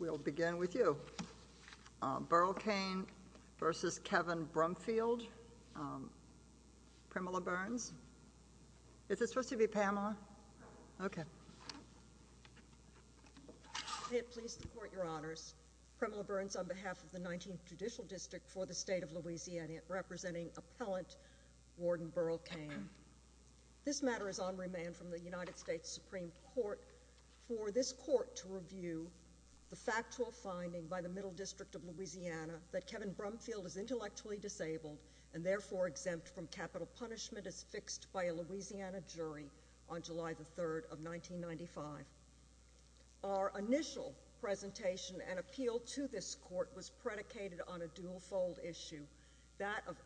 We'll begin with you. Burl Cain v. Kevin Brumfield. Primala Burns. Is it supposed to be Pamela? Okay. May it please the Court, Your Honors. Primala Burns on behalf of the 19th Judicial District for the State of Louisiana, representing Appellant Warden Burl Cain. This matter is United States Supreme Court for this court to review the factual finding by the Middle District of Louisiana that Kevin Brumfield is intellectually disabled and therefore exempt from capital punishment as fixed by a Louisiana jury on July the 3rd of 1995. Our initial presentation and appeal to this court was predicated on a dual-fold issue, that of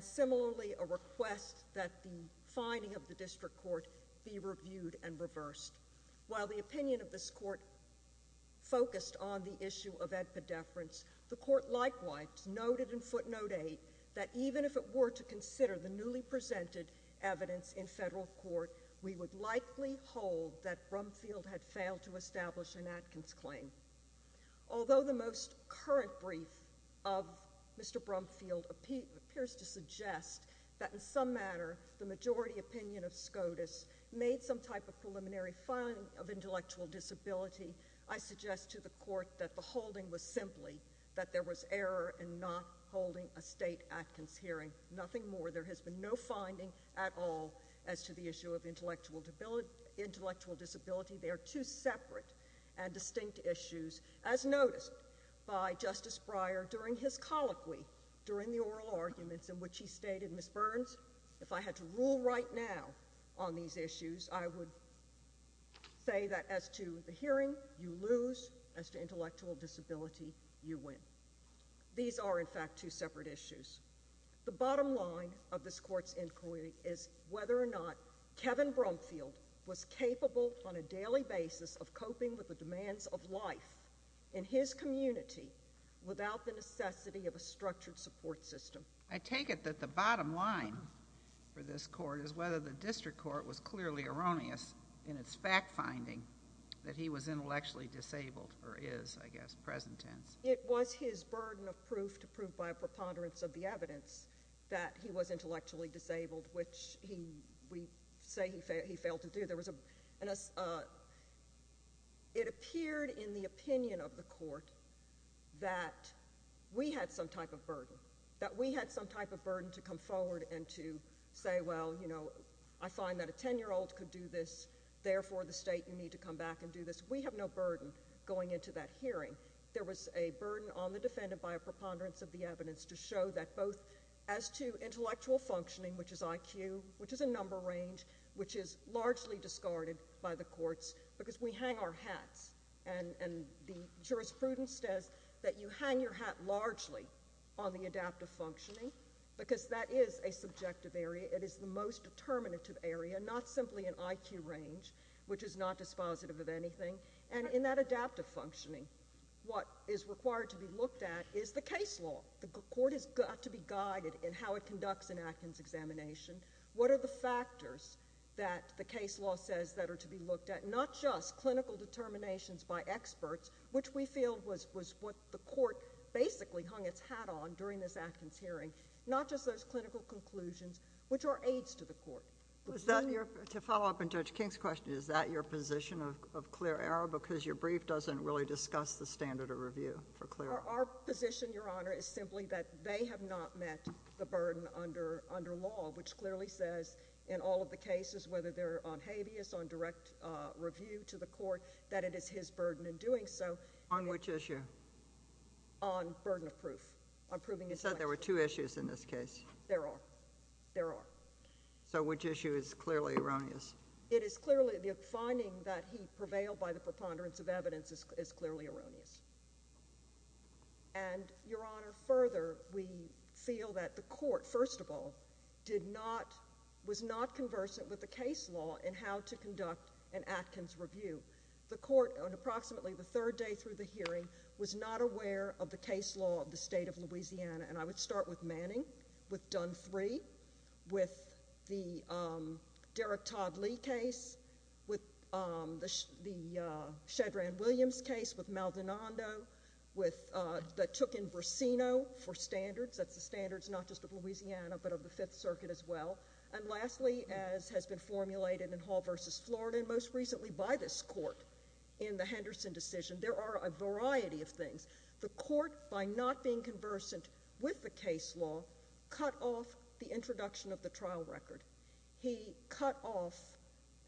similarly a request that the finding of the district court be reviewed and reversed. While the opinion of this court focused on the issue of epidefference, the court likewise noted in footnote 8 that even if it were to consider the newly presented evidence in federal court, we would likely hold that Brumfield had failed to establish an Atkins claim. Although the most current brief of Mr. Brumfield appears to suggest that in some matter the majority opinion of SCOTUS made some type of preliminary finding of intellectual disability, I suggest to the court that the holding was simply that there was error in not holding a state Atkins hearing, nothing more. There has been no finding at all as to the issue of intellectual intellectual disability. They are two separate and distinct issues as noticed by Justice Breyer during his colloquy during the oral arguments in which he stated, Ms. Burns, if I had to rule right now on these issues, I would say that as to the hearing, you lose, as to intellectual disability, you win. These are in fact two separate issues. The bottom line of this court's inquiry is whether or not Kevin Brumfield was capable on a daily basis of coping with the demands of life in his community without the necessity of a structured support system. I take it that the bottom line for this court is whether the district court was clearly erroneous in its fact finding that he was intellectually disabled or is, I guess, present tense. It was his burden of proof to prove by a preponderance of the evidence that he was intellectually disabled, which we say he failed to do. It appeared in the opinion of the court that we had some type of burden, that we had some type of burden to come forward and to say, well, you know, I find that a 10-year-old could do this. Therefore, the state, you need to come back and do this. We have no burden going into that hearing. There was a burden on the defendant by a preponderance of the evidence to show that both as to intellectual functioning, which is IQ, which is a number range, which is largely discarded by the courts because we hang our hats, and the jurisprudence says that you hang your hat largely on the adaptive functioning because that is a subjective area. It is the most determinative area, not simply an IQ range, which is not dispositive of anything. And in that adaptive functioning, what is required to be looked at is the case law. The court has got to be guided in how it conducts an Atkins examination. What are the factors that the case law says that are to be looked at, not just clinical determinations by experts, which we feel was what the court basically hung its hat on during this Atkins hearing, not just those clinical conclusions, which are aids to the court. Is that your, to follow up on Judge King's question, is that your position of clear error because your brief doesn't really discuss the standard of review for clear? Our position, Your Honor, is simply that they have not met the burden under law, which clearly says in all of the cases, whether they're on habeas, on direct review to the court, that it is his burden in doing so. On which issue? On burden of proof. You said there were two issues in this case. There are. There are. So which issue is clearly erroneous? It is clearly the finding that he prevailed by the preponderance of evidence is clearly erroneous. And, Your Honor, further, we feel that the court, first of all, did not, was not conversant with the case law in how to conduct an Atkins review. The court, on approximately the third day through the hearing, was not aware of the case law of the state of Louisiana. And I would start with Manning, with Dunn III, with the Derrick Todd Lee case, with the Shedron Williams case, with Maldonado, with, that took in Vercino for standards. That's the standards not just of Louisiana, but of the Fifth Circuit as well. And lastly, as has been formulated in Hall v. Florida, and most recently by this court in the Henderson decision, there are a variety of things. The court, by not being conversant with the case law, cut off the introduction of the trial record. He cut off,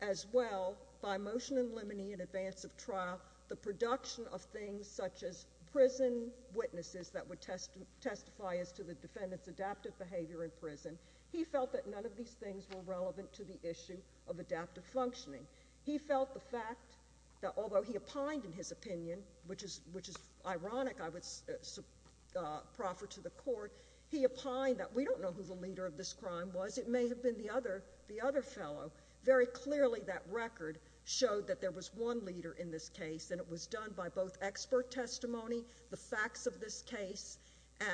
as well, by motion in limine in advance of trial, the production of things such as prison witnesses that would testify as to the defendant's adaptive behavior in prison. He felt that none of these things were relevant to the issue of adaptive functioning. He felt the fact that, although he opined in his opinion, which is ironic, I would proffer to the court, he opined that we don't know who the leader of this crime was. It may have been the other fellow. Very clearly, that record showed that there was one leader in this case, and it was done by both expert testimony, the facts of this case,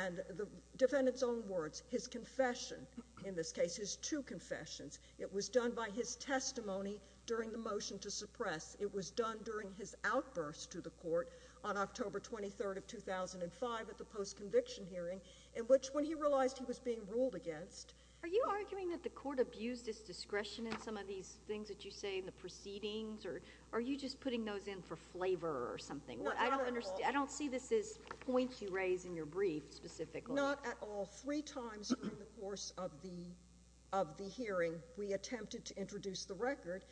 and the defendant's own words, his confession in this case, his two confessions. It was done by his testimony during the motion to suppress. It was done during his outburst to the court on October 23rd of 2005 at the post-conviction hearing, in which, when he realized he was being ruled against. Are you arguing that the court abused his discretion in some of these things that you say in the proceedings, or are you just putting those in for flavor or something? Not at all. I don't see this as points you raise in your brief, specifically. Not at all. Three times during the course of the hearing, we attempted to introduce the record,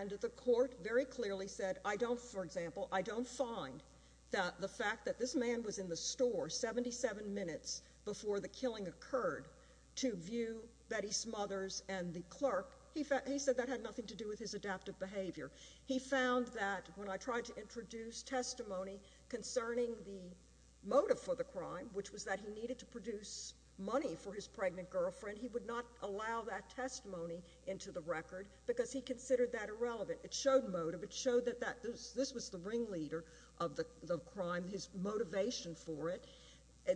and the court very clearly said, I don't, for example, I don't find that the fact that this man was in the store 77 minutes before the killing occurred to view Betty Smothers and the clerk, he said that had nothing to do with his adaptive behavior. He found that, when I tried to introduce testimony concerning the motive for the crime, which was that he needed to produce money for his pregnant girlfriend, he would not allow that testimony into the record because he considered that irrelevant. It showed motive. It showed that this was the ringleader of the crime, his motivation for it.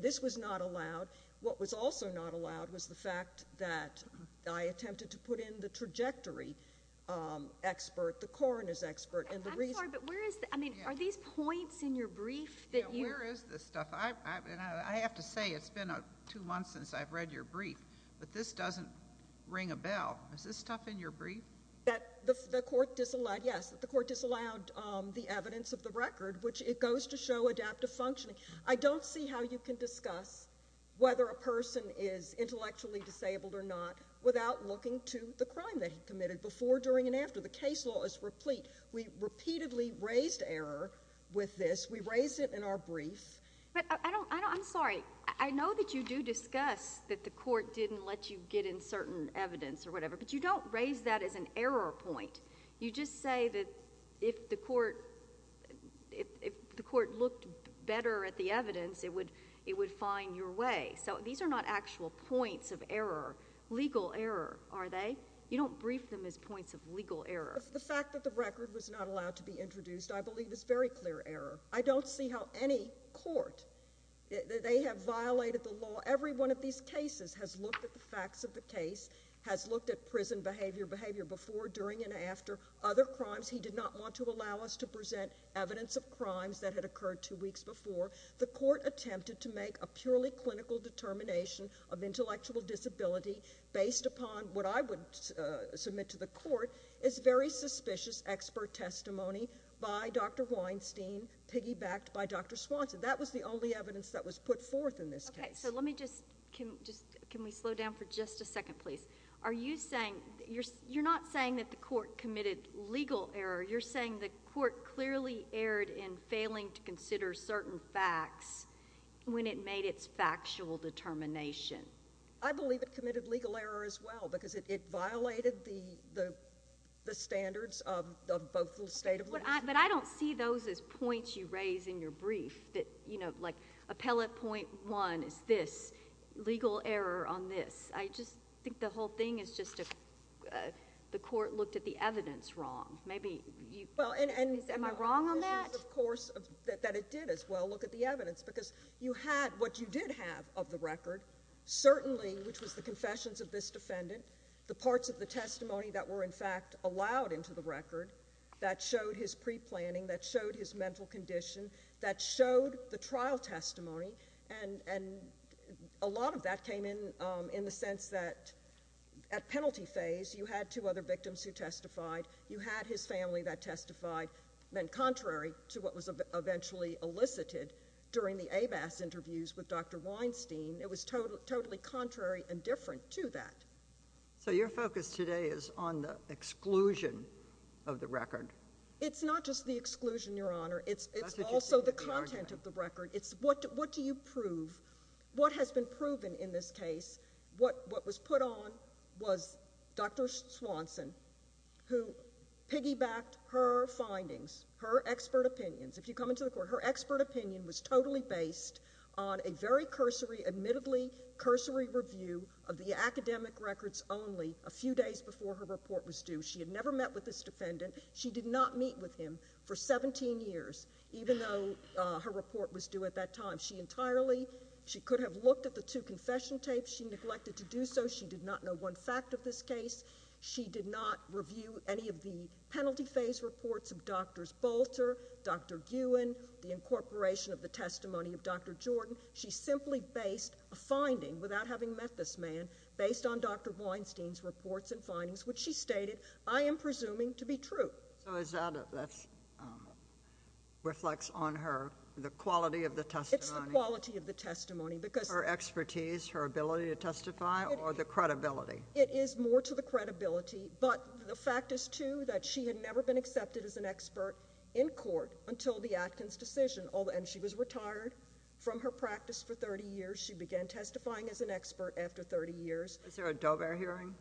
This was not allowed. What was also not allowed was the fact that I attempted to put in the trajectory expert, the coroner's expert, and the reason— I'm sorry, but where is, I mean, are these points in your brief that you— Yeah, where is this stuff? I have to say it's been two months since I've read your brief, but this doesn't ring a bell. Is this stuff in your brief? That the court disallowed, yes, that the court disallowed the evidence of the record, which it goes to show adaptive functioning. I don't see how you can discuss whether a person is intellectually disabled or not without looking to the crime that he committed before, during, and after. The case law is replete. We repeatedly raised error with this. We raised it in our brief. But I'm sorry, I know that you do discuss that the court didn't let you get in certain evidence or whatever, but you don't raise that as an error point. You just say that if the court looked better at the evidence, it would find your way. So these are not actual points of error, legal error, are they? You don't brief them as points of legal error. The fact that the record was not allowed to be introduced, I believe, is very clear error. I don't see how any court, they have violated the law. Every one of these cases has looked at the facts of the case, has looked at prison behavior, behavior before, during, and after other crimes. He did not want to allow us to present evidence of crimes that had occurred two weeks before. The court attempted to make a purely clinical determination of intellectual disability based upon what I would submit to the court is very suspicious expert testimony by Dr. Weinstein, piggybacked by Dr. Swanson. That was the only evidence that was put forth in this case. Okay. So let me just, can we slow down for just a second, please? Are you saying, you're not saying that the court committed legal error, you're saying the court clearly erred in failing to consider certain facts when it made its factual determination. I believe it committed legal error as well because it violated the standards of both the state of law. But I don't see those as points you raise in your brief that, you know, like appellate point one is this, legal error on this. I just think the whole thing is just the court looked at the evidence wrong. Maybe you, am I wrong on that? Of course, that it did as well look at the evidence because you had what you did have of the record, certainly, which was the confessions of this defendant, the parts of the testimony that were in fact allowed into the record that showed his pre-planning, that showed his mental condition, that showed the trial testimony. And a lot of that came in the sense that at penalty phase, you had two other victims who testified, you had his family that testified, then contrary to what was eventually elicited during the AMAS interviews with Dr. Weinstein, it was totally contrary and different to that. So your focus today is on the exclusion of the record. It's not just the exclusion, Your Honor. It's also the content of the record. It's what do you prove? What has been proven in this case? What was put on was Dr. Swanson, who piggybacked her findings, her expert opinions. If you come into the court, her expert opinion was totally based on a very cursory, admittedly cursory review of the academic records only a few days before her report was due. She had never met with this defendant. She did not meet with him for 17 years, even though her report was due at that time. She entirely, she could have looked at the two confession tapes. She neglected to do so. She did not know one fact of this case. She did not review any of the penalty phase reports of Drs. Bolter, Dr. Guin, the incorporation of the testimony of Dr. Jordan. She simply based a finding, without having met this man, based on Dr. Weinstein's reports and findings, which she stated, I am presuming to be true. So is that, that reflects on her, the quality of the testimony? It's the quality of the testimony because— Her expertise, her ability to testify, or the credibility? It is more to the credibility, but the fact is, too, that she had never been accepted as an expert in court until the Atkins decision. And she was retired from her practice for 30 years. She began testifying as an expert after 30 years. Is there a Dober hearing?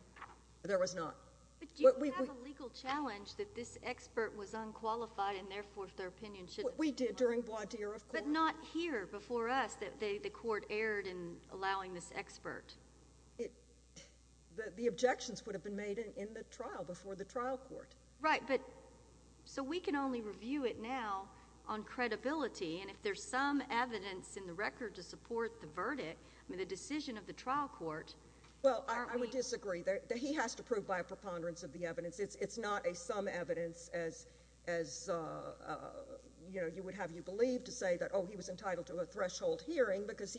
There was not. But do you have a legal challenge that this expert was unqualified, and therefore, their opinion should— We did during Bois d'Ire, of course. But not here, before us, that the court erred in allowing this expert? The objections would have been made in the trial, before the trial court. Right, but, so we can only review it now on credibility. And if there's some evidence in the record to support the verdict, I mean, the decision of the trial court, aren't we— Well, I would disagree. He has to prove by a preponderance of the evidence. It's not a some evidence as, you know, you would have you believe to say that, oh, he was entitled to a threshold hearing because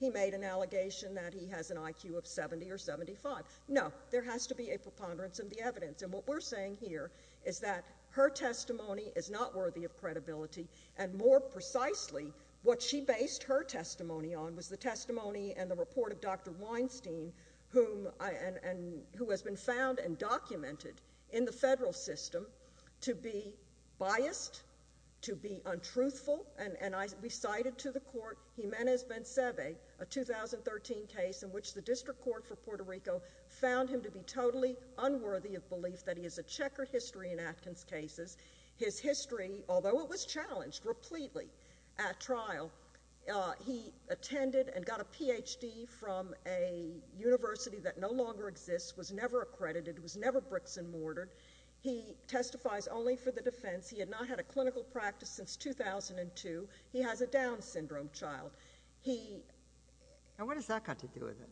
he made an allegation that he has an IQ of 70 or 75. No, there has to be a preponderance of the evidence. And what we're saying here is that her testimony is not worthy of credibility. And more precisely, what she based her testimony on was the testimony and the report of Dr. Weinstein, who has been found and documented in the federal system to be biased, to be untruthful. And we cited to the court Jimenez Bencebe, a 2013 case in which the District Court for Puerto Rico found him to be totally unworthy of belief that he has a checkered history in Atkins cases. His history, although it was challenged repletely at trial, he attended and got a Ph.D. from a university that no longer exists, was never accredited, was never bricks and mortared. He testifies only for the defense. He had not had a clinical practice since 2002. He has a Down syndrome child. He— And what has that got to do with it?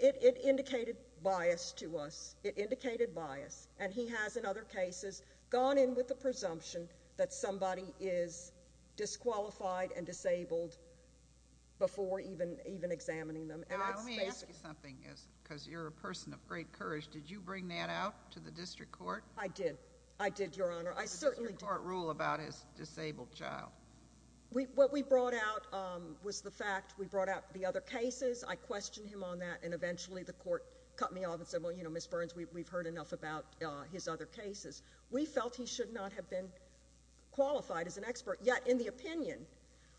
It indicated bias to us. It indicated bias. And he has, in other cases, gone in with the presumption that somebody is disqualified and disabled before even examining them. And that's basically— Now, let me ask you something, because you're a person of great courage. Did you bring that out to the District Court? I did. I did, Your Honor. I certainly did. What did the District Court rule about his disabled child? What we brought out was the fact— We brought out the other cases. I questioned him on that, and eventually the Court cut me off and said, well, you know, Ms. Burns, we've heard enough about his other cases. We felt he should not have been qualified as an expert. Yet, in the opinion,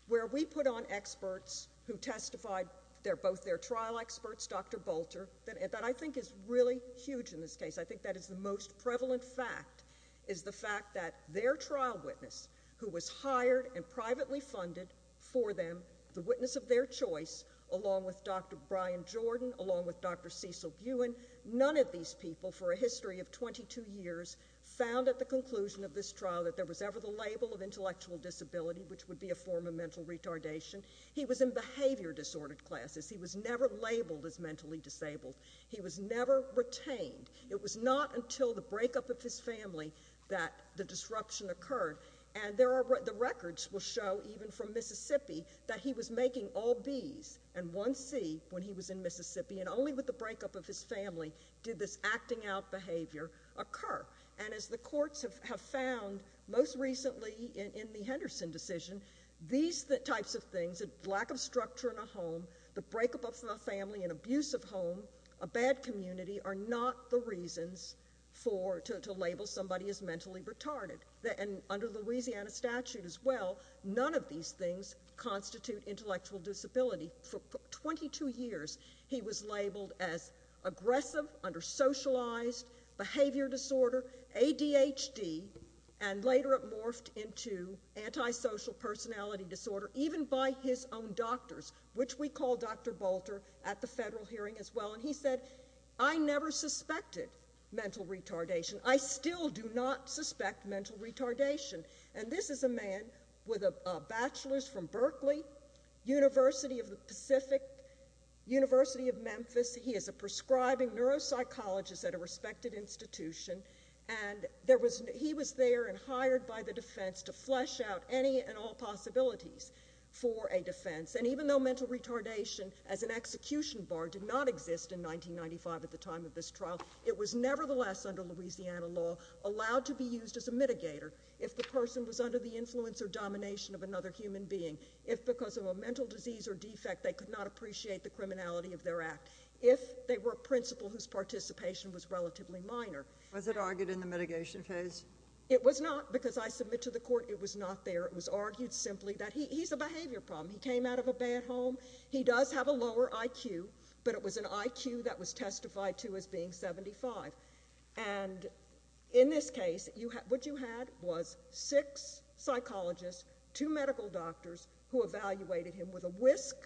where we put on experts who testified, they're both their trial experts, Dr. Bolter, that I think is really huge in this case. I think that is the most prevalent fact, is the fact that their trial witness, who was hired and privately funded for them, the witness of their choice, along with Dr. Brian Jordan, along with Dr. Cecil Buin, none of these people for a history of 22 years found at the conclusion of this trial that there was ever the label of intellectual disability, which would be a form of mental retardation. He was in behavior disordered classes. He was never labeled as mentally disabled. He was never retained. It was not until the breakup of his family that the disruption occurred. And the records will show, even from Mississippi, that he was making all Bs and one C when he was in Mississippi, and only with the breakup of his family did this acting out behavior occur. And as the courts have found, most recently in the Henderson decision, these types of things, lack of structure in a home, the breakup of a family, an abusive home, a bad community, are not the reasons to label somebody as mentally retarded. And under the Louisiana statute as well, none of these things constitute intellectual disability. For 22 years, he was labeled as aggressive, under socialized, behavior disorder, ADHD, and later it morphed into antisocial personality disorder, even by his own doctors, which we call Dr. Bolter at the federal hearing as well. And he said, I never suspected mental retardation. I still do not suspect mental retardation. And this is a man with a bachelor's from Berkeley, University of the Pacific, University of Memphis. He is a prescribing neuropsychologist at a respected institution. And he was there and hired by the defense to flesh out any and all possibilities for a defense. And even though mental retardation as an execution bar did not exist in 1995 at the time of this trial, it was nevertheless under Louisiana law, allowed to be used as a mitigator. If the person was under the influence or domination of another human being, if because of a mental disease or defect, they could not appreciate the criminality of their act, if they were a principal whose participation was relatively minor. Was it argued in the mitigation phase? It was not, because I submit to the court, it was not there. It was argued simply that he's a behavior problem. He came out of a bad home. He does have a lower IQ, but it was an IQ that was testified to as being 75. And in this case, what you had was six psychologists, two medical doctors, who evaluated him with a whisk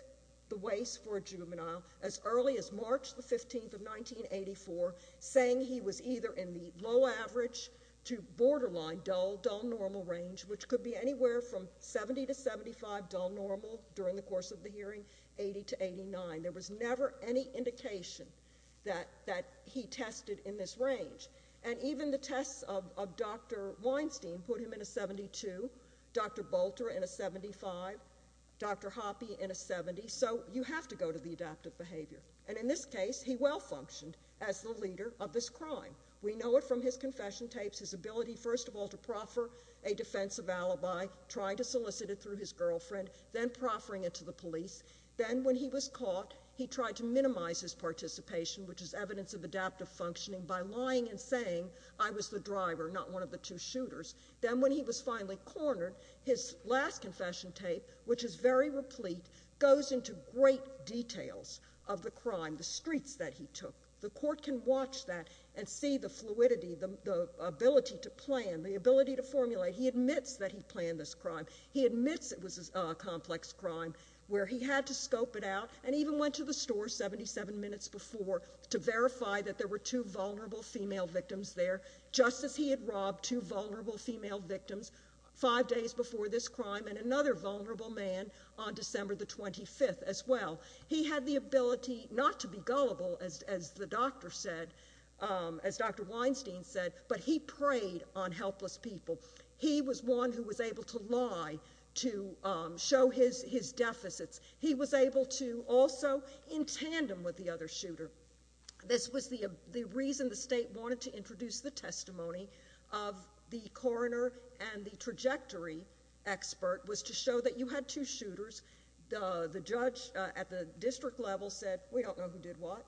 the waist for a juvenile as early as March the 15th of 1984, saying he was either in the low average to borderline dull, dull normal range, which could be anywhere from 70 to 75 dull normal during the course of the hearing, 80 to 89. There was never any indication that he tested in this range. And even the tests of Dr. Weinstein put him in a 72, Dr. Bolter in a 75, Dr. Hoppe in a 70. So you have to go to the adaptive behavior. And in this case, he well functioned as the leader of this crime. We know it from his confession tapes, his ability, first of all, to proffer a defensive alibi, trying to solicit it through his girlfriend, then proffering it to the police. Then when he was caught, he tried to minimize his participation, which is evidence of adaptive functioning, by lying and saying, I was the driver, not one of the two shooters. Then when he was finally cornered, his last confession tape, which is very replete, goes into great details of the crime, the streets that he took. The court can watch that and see the fluidity, the ability to plan, the ability to formulate. He admits that he planned this crime. He admits it was a complex crime where he had to scope it out and even went to the store 77 minutes before to verify that there were two vulnerable female victims there, just as he had robbed two vulnerable female victims five days before this crime and another vulnerable man on December the 25th as well. He had the ability not to be gullible, as the doctor said, as Dr. Weinstein said, but he preyed on helpless people. He was one who was able to lie to show his deficits. He was able to also, in tandem with the other shooter, this was the reason the state wanted to introduce the testimony of the coroner and the trajectory expert was to show that you had two shooters. The judge at the district level said, we don't know who did what,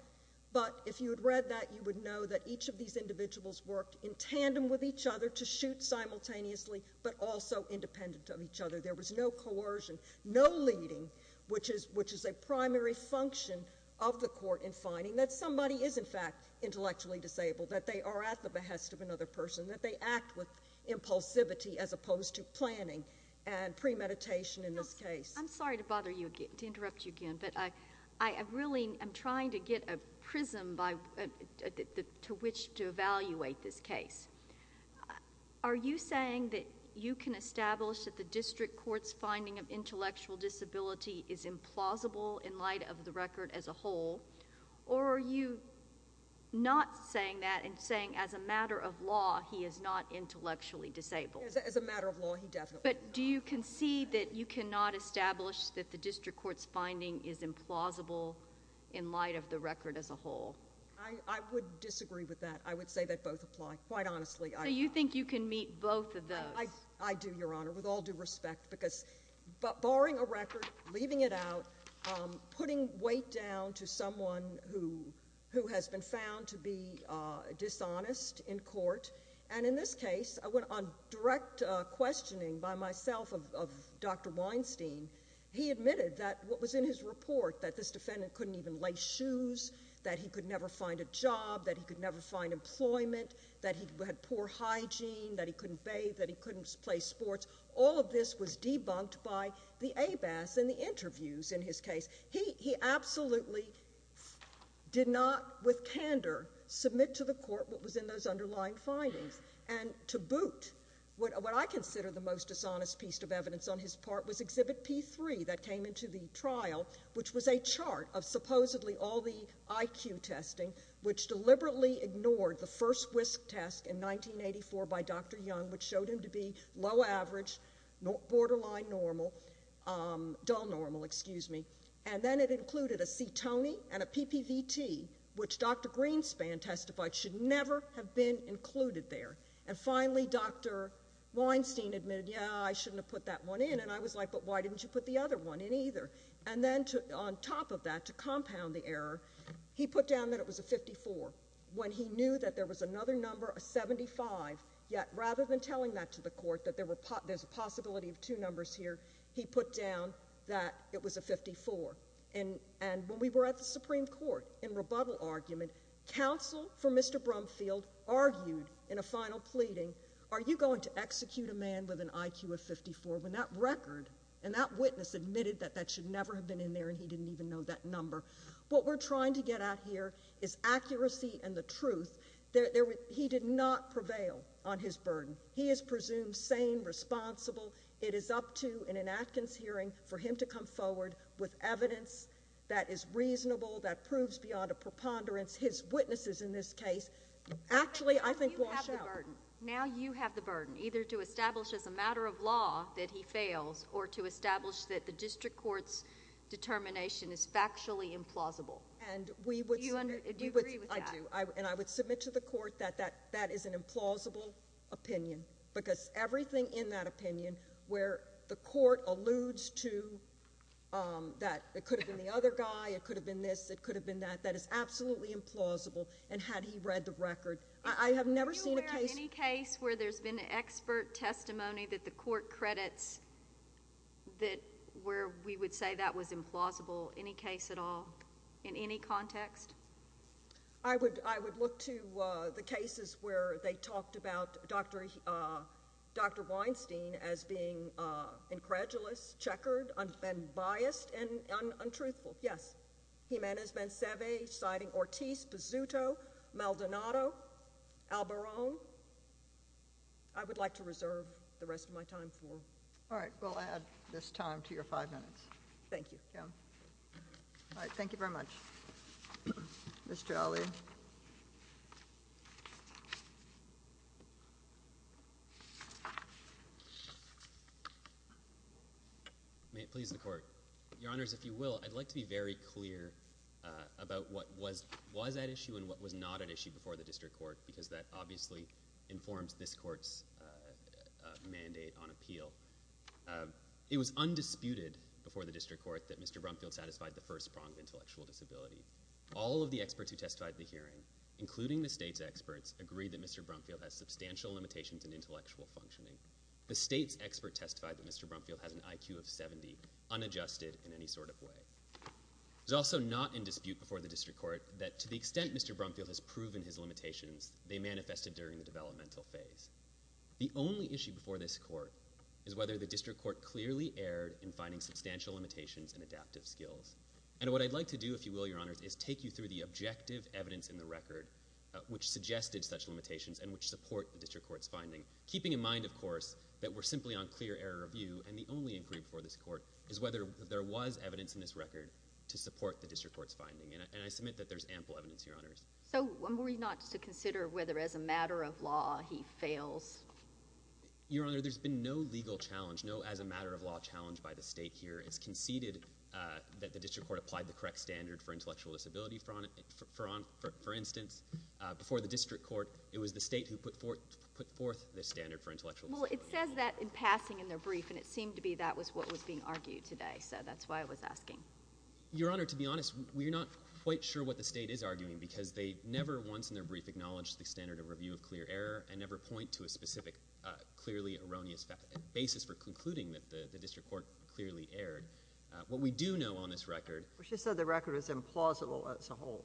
but if you had read that, you would know that each of these individuals worked in tandem with each other to shoot simultaneously, but also independent of each other. There was no coercion, no leading, which is a primary function of the court in finding that somebody is, in fact, intellectually disabled, that they are at the behest of another person, that they act with impulsivity as opposed to planning and premeditation in this case. I'm sorry to bother you again, to interrupt you again, I really am trying to get a prism to which to evaluate this case. Are you saying that you can establish that the district court's finding of intellectual disability is implausible in light of the record as a whole, or are you not saying that and saying, as a matter of law, he is not intellectually disabled? As a matter of law, he definitely is not. But do you concede that you cannot establish that the district court's finding is implausible in light of the record as a whole? I would disagree with that. I would say that both apply, quite honestly. So you think you can meet both of those? I do, Your Honor, with all due respect, because barring a record, leaving it out, putting weight down to someone who has been found to be dishonest in court, and in this case, I went on direct questioning by myself of Dr. Weinstein. He admitted that what was in his report, that this defendant couldn't even lay shoes, that he could never find a job, that he could never find employment, that he had poor hygiene, that he couldn't bathe, that he couldn't play sports, all of this was debunked by the ABAS in the interviews in his case. He absolutely did not, with candor, submit to the court what was in those underlying findings. And to boot, what I consider the most dishonest piece of evidence on his part was Exhibit P3 that came into the trial, which was a chart of supposedly all the IQ testing, which deliberately ignored the first WISC test in 1984 by Dr. Young, which showed him to be low average, borderline normal, dull normal, excuse me. And then it included a C-Tony and a PPVT, which Dr. Greenspan testified should never have been included there. And finally, Dr. Weinstein admitted, yeah, I shouldn't have put that one in, and I was like, but why didn't you put the other one in either? And then to, on top of that, to compound the error, he put down that it was a 54 when he knew that there was another number, a 75, yet rather than telling that to the court that there were, there's a possibility of two numbers here, he put down that it was a 54. And when we were at the Supreme Court in rebuttal argument, counsel for Mr. Brumfield argued in a final pleading, are you going to execute a man with an IQ of 54 when that record, and that witness admitted that that should never have been in there, and he didn't even know that number? What we're trying to get at here is accuracy and the truth. He did not prevail on his burden. He is presumed sane, responsible. It is up to, in an Atkins hearing, for him to come forward with evidence that is reasonable, that proves beyond a preponderance. His witnesses in this case actually, I think, wash out. Now you have the burden, either to establish as a matter of law that he fails, or to establish that the district court's determination is factually implausible. Do you agree with that? I do. And I would submit to the court that that is an implausible opinion, because everything in that opinion where the court alludes to, that it could have been the other guy, it could have been this, it could have been that, that is absolutely implausible, and had he read the record. I have never seen a case— Are you aware of any case where there's been expert testimony that the court credits that where we would say that was implausible, any case at all, in any context? I would look to the cases where they talked about Dr. Weinstein as being incredulous, checkered, and biased, and untruthful, yes. Jimenez-Benceve, citing Ortiz, Pizzuto, Maldonado, Albarone. I would like to reserve the rest of my time for— All right. We'll add this time to your five minutes. Thank you, Kim. All right. Thank you very much. Ms. Jolly. Please, the court. Your Honors, if you will, I'd like to be very clear about what was at issue and what was not at issue before the district court, because that obviously informs this court's mandate on appeal. It was undisputed before the district court that Mr. Brumfield satisfied the first prong of intellectual disability. All of the experts who testified at the hearing, including the state's experts, agreed that Mr. Brumfield has substantial limitations in intellectual functioning. The state's expert testified that Mr. Brumfield has an IQ of 70, unadjusted in any sort of way. It was also not in dispute before the district court that, to the extent Mr. Brumfield has proven his limitations, they manifested during the developmental phase. The only issue before this court is whether the district court clearly erred in finding substantial limitations in adaptive skills. And what I'd like to do, if you will, Your Honors, is take you through the objective evidence in the record which suggested such limitations and which support the district court's finding, keeping in mind, of course, that we're simply on clear error of view, and the only inquiry before this court is whether there was evidence in this record to support the district court's finding. And I submit that there's ample evidence, Your Honors. JUSTICE O'CONNOR. So were we not to consider whether, as a matter of law, he fails? MR. ZUNIGA. Your Honor, there's been no legal challenge, no as-a-matter-of-law challenge by the state here. It's conceded that the district court applied the correct standard for intellectual disability. it was the state who put forth the standard for intellectual disability. JUSTICE O'CONNOR. Well, it says that in passing in their brief, and it seemed to be that was what was being argued today. So that's why I was asking. MR. ZUNIGA. Your Honor, to be honest, we're not quite sure what the state is arguing because they never once in their brief acknowledged the standard of review of clear error and never point to a specific clearly erroneous basis for concluding that the district court clearly erred. What we do know on this record— JUSTICE KAGAN. She said the record was implausible as a whole.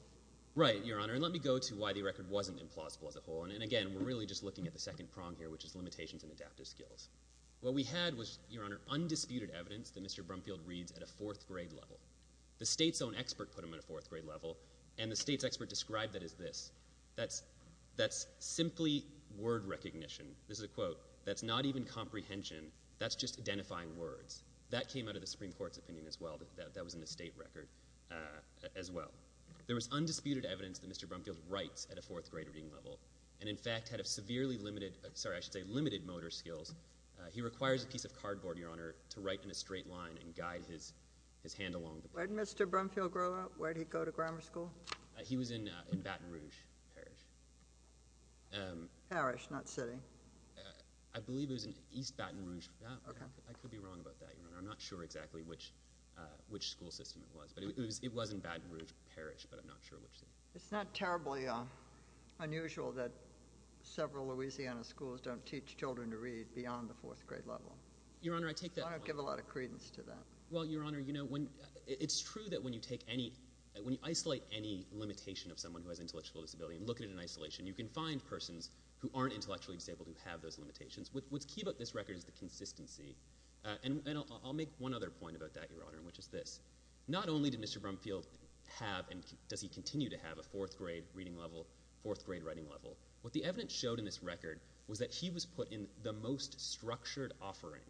MR. ZUNIGA. Right, Your Honor. And let me go to why the record wasn't implausible as a whole. And again, we're really just looking at the second prong here, which is limitations in adaptive skills. What we had was, Your Honor, undisputed evidence that Mr. Brumfield reads at a fourth-grade level. The state's own expert put him at a fourth-grade level, and the state's expert described that as this. That's simply word recognition. This is a quote. That's not even comprehension. That's just identifying words. That came out of the Supreme Court's opinion as well. That was in the state record as well. There was undisputed evidence that Mr. Brumfield writes at a fourth-grade reading level and, in fact, had a severely limited— I should say limited—motor skills. He requires a piece of cardboard, Your Honor, to write in a straight line and guide his hand along. JUSTICE KAGAN. Where did Mr. Brumfield grow up? Where did he go to grammar school? MR. ZUNIGA. He was in Baton Rouge Parish. JUSTICE KAGAN. Parish, not city? MR. ZUNIGA. I believe it was in East Baton Rouge— JUSTICE KAGAN. Okay. MR. ZUNIGA. I could be wrong about that, Your Honor. I'm not sure exactly which school system it was. But it was in Baton Rouge Parish, but I'm not sure which city. JUSTICE KAGAN. It's not terribly unusual that several Louisiana schools don't teach children to read beyond the fourth-grade level. MR. ZUNIGA. Your Honor, I take that— JUSTICE KAGAN. I don't give a lot of credence to that. MR. ZUNIGA. Well, Your Honor, you know, when—it's true that when you take any—when you isolate any limitation of someone who has intellectual disability and look at it in isolation, you can find persons who aren't intellectually disabled who have those limitations. What's key about this record is the consistency. And I'll make one other point about that, Your Honor, which is this. Not only did Mr. Brumfield have and does he continue to have a fourth-grade reading level, fourth-grade writing level, what the evidence showed in this record was that he was put in the most structured offering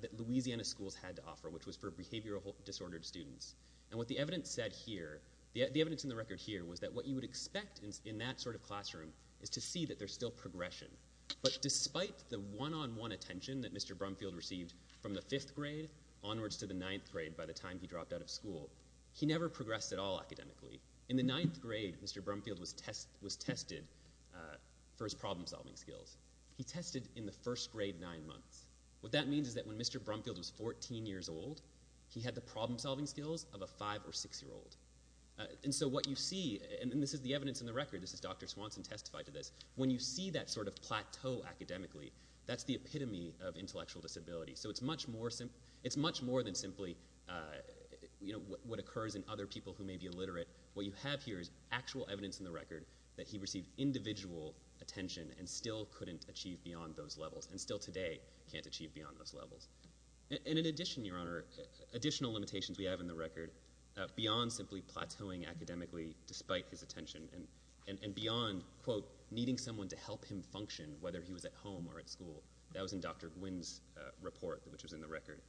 that Louisiana schools had to offer, which was for behavioral disordered students. And what the evidence said here—the evidence in the record here was that what you would expect in that sort of classroom is to see that there's still progression. But despite the one-on-one attention that Mr. Brumfield received from the fifth grade onwards to the ninth grade by the time he dropped out of school, he never progressed at all academically. In the ninth grade, Mr. Brumfield was tested for his problem-solving skills. He tested in the first grade nine months. What that means is that when Mr. Brumfield was 14 years old, he had the problem-solving skills of a five- or six-year-old. And so what you see—and this is the evidence in the record, this is Dr. Swanson testified to this—when you see that sort of plateau academically, that's the epitome of intellectual disability. So it's much more than simply what occurs in other people who may be illiterate. What you have here is actual evidence in the record that he received individual attention and still couldn't achieve beyond those levels and still today can't achieve beyond those levels. And in addition, Your Honor, additional limitations we have in the record beyond simply plateauing academically despite his attention and beyond, quote, needing someone to help him function, whether he was at home or at school. That was in Dr. Gwynn's report, which was in the record.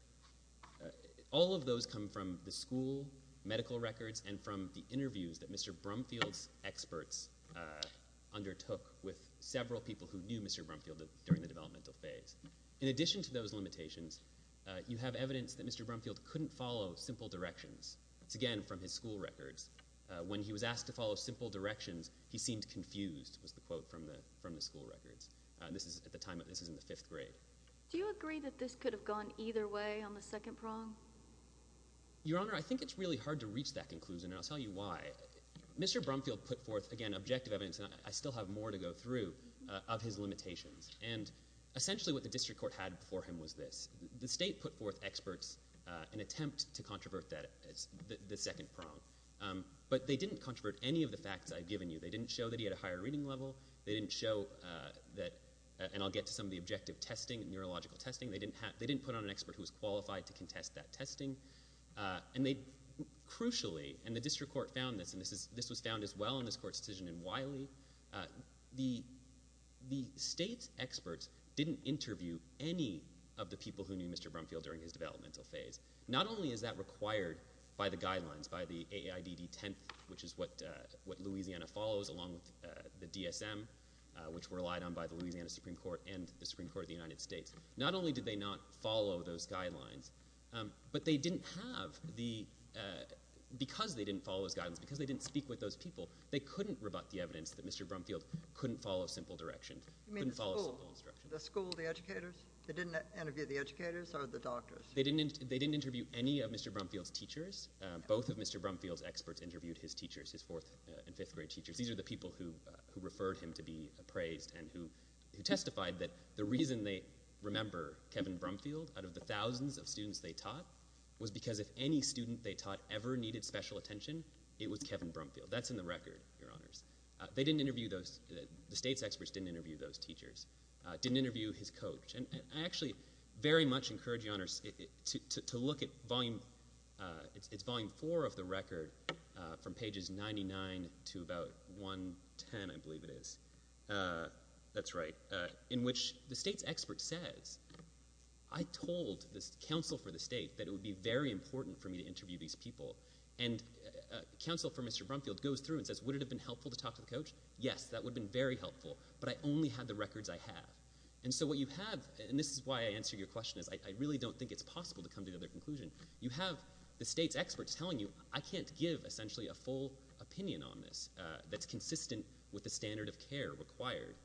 All of those come from the school medical records and from the interviews that Mr. Brumfield's experts undertook with several people who knew Mr. Brumfield during the developmental phase. In addition to those limitations, you have evidence that Mr. Brumfield couldn't follow simple directions. It's again from his school records. When he was asked to follow simple directions, he seemed confused, was the quote from the school records. At the time, this is in the fifth grade. Do you agree that this could have gone either way on the second prong? Your Honor, I think it's really hard to reach that conclusion, and I'll tell you why. Mr. Brumfield put forth, again, objective evidence, and I still have more to go through, of his limitations. And essentially what the district court had before him was this. The state put forth experts in an attempt to controvert the second prong, but they didn't controvert any of the facts I've given you. They didn't show that he had a higher reading level. They didn't show that, and I'll get to some of the objective testing, neurological testing. They didn't put on an expert who was qualified to contest that testing. And they, crucially, and the district court found this, and this was found as well in this court's decision in Wiley. The state's experts didn't interview any of the people who knew Mr. Brumfield during his developmental phase. Not only is that required by the guidelines, by the AAIDD 10th, which is what Louisiana follows, along with the DSM, which were relied on by the Louisiana Supreme Court and the Supreme Court of the United States. Not only did they not follow those guidelines, but they didn't have the, because they didn't follow those guidelines, because they didn't speak with those people, they couldn't rebut the evidence that Mr. Brumfield couldn't follow simple direction, couldn't follow simple instruction. The school, the educators? They didn't interview the educators or the doctors? They didn't interview any of Mr. Brumfield's teachers. Both of Mr. Brumfield's experts interviewed his teachers, his fourth and fifth grade teachers. These are the people who referred him to be appraised and who testified that the reason they remember Kevin Brumfield out of the thousands of students they taught was because if any student they taught ever needed special attention, it was Kevin Brumfield. That's in the record, Your Honors. They didn't interview those, the state's experts didn't interview those teachers, didn't interview his coach. I actually very much encourage you, Your Honors, to look at volume, it's volume four of the record from pages 99 to about 110, I believe it is. That's right. In which the state's expert says, I told this counsel for the state that it would be very important for me to interview these people. And counsel for Mr. Brumfield goes through and says, would it have been helpful to talk to the coach? Yes, that would have been very helpful. But I only had the records I have. And so what you have, and this is why I answered your question, is I really don't think it's possible to come to the other conclusion. You have the state's experts telling you, I can't give essentially a full opinion on this that's consistent with the standard of care required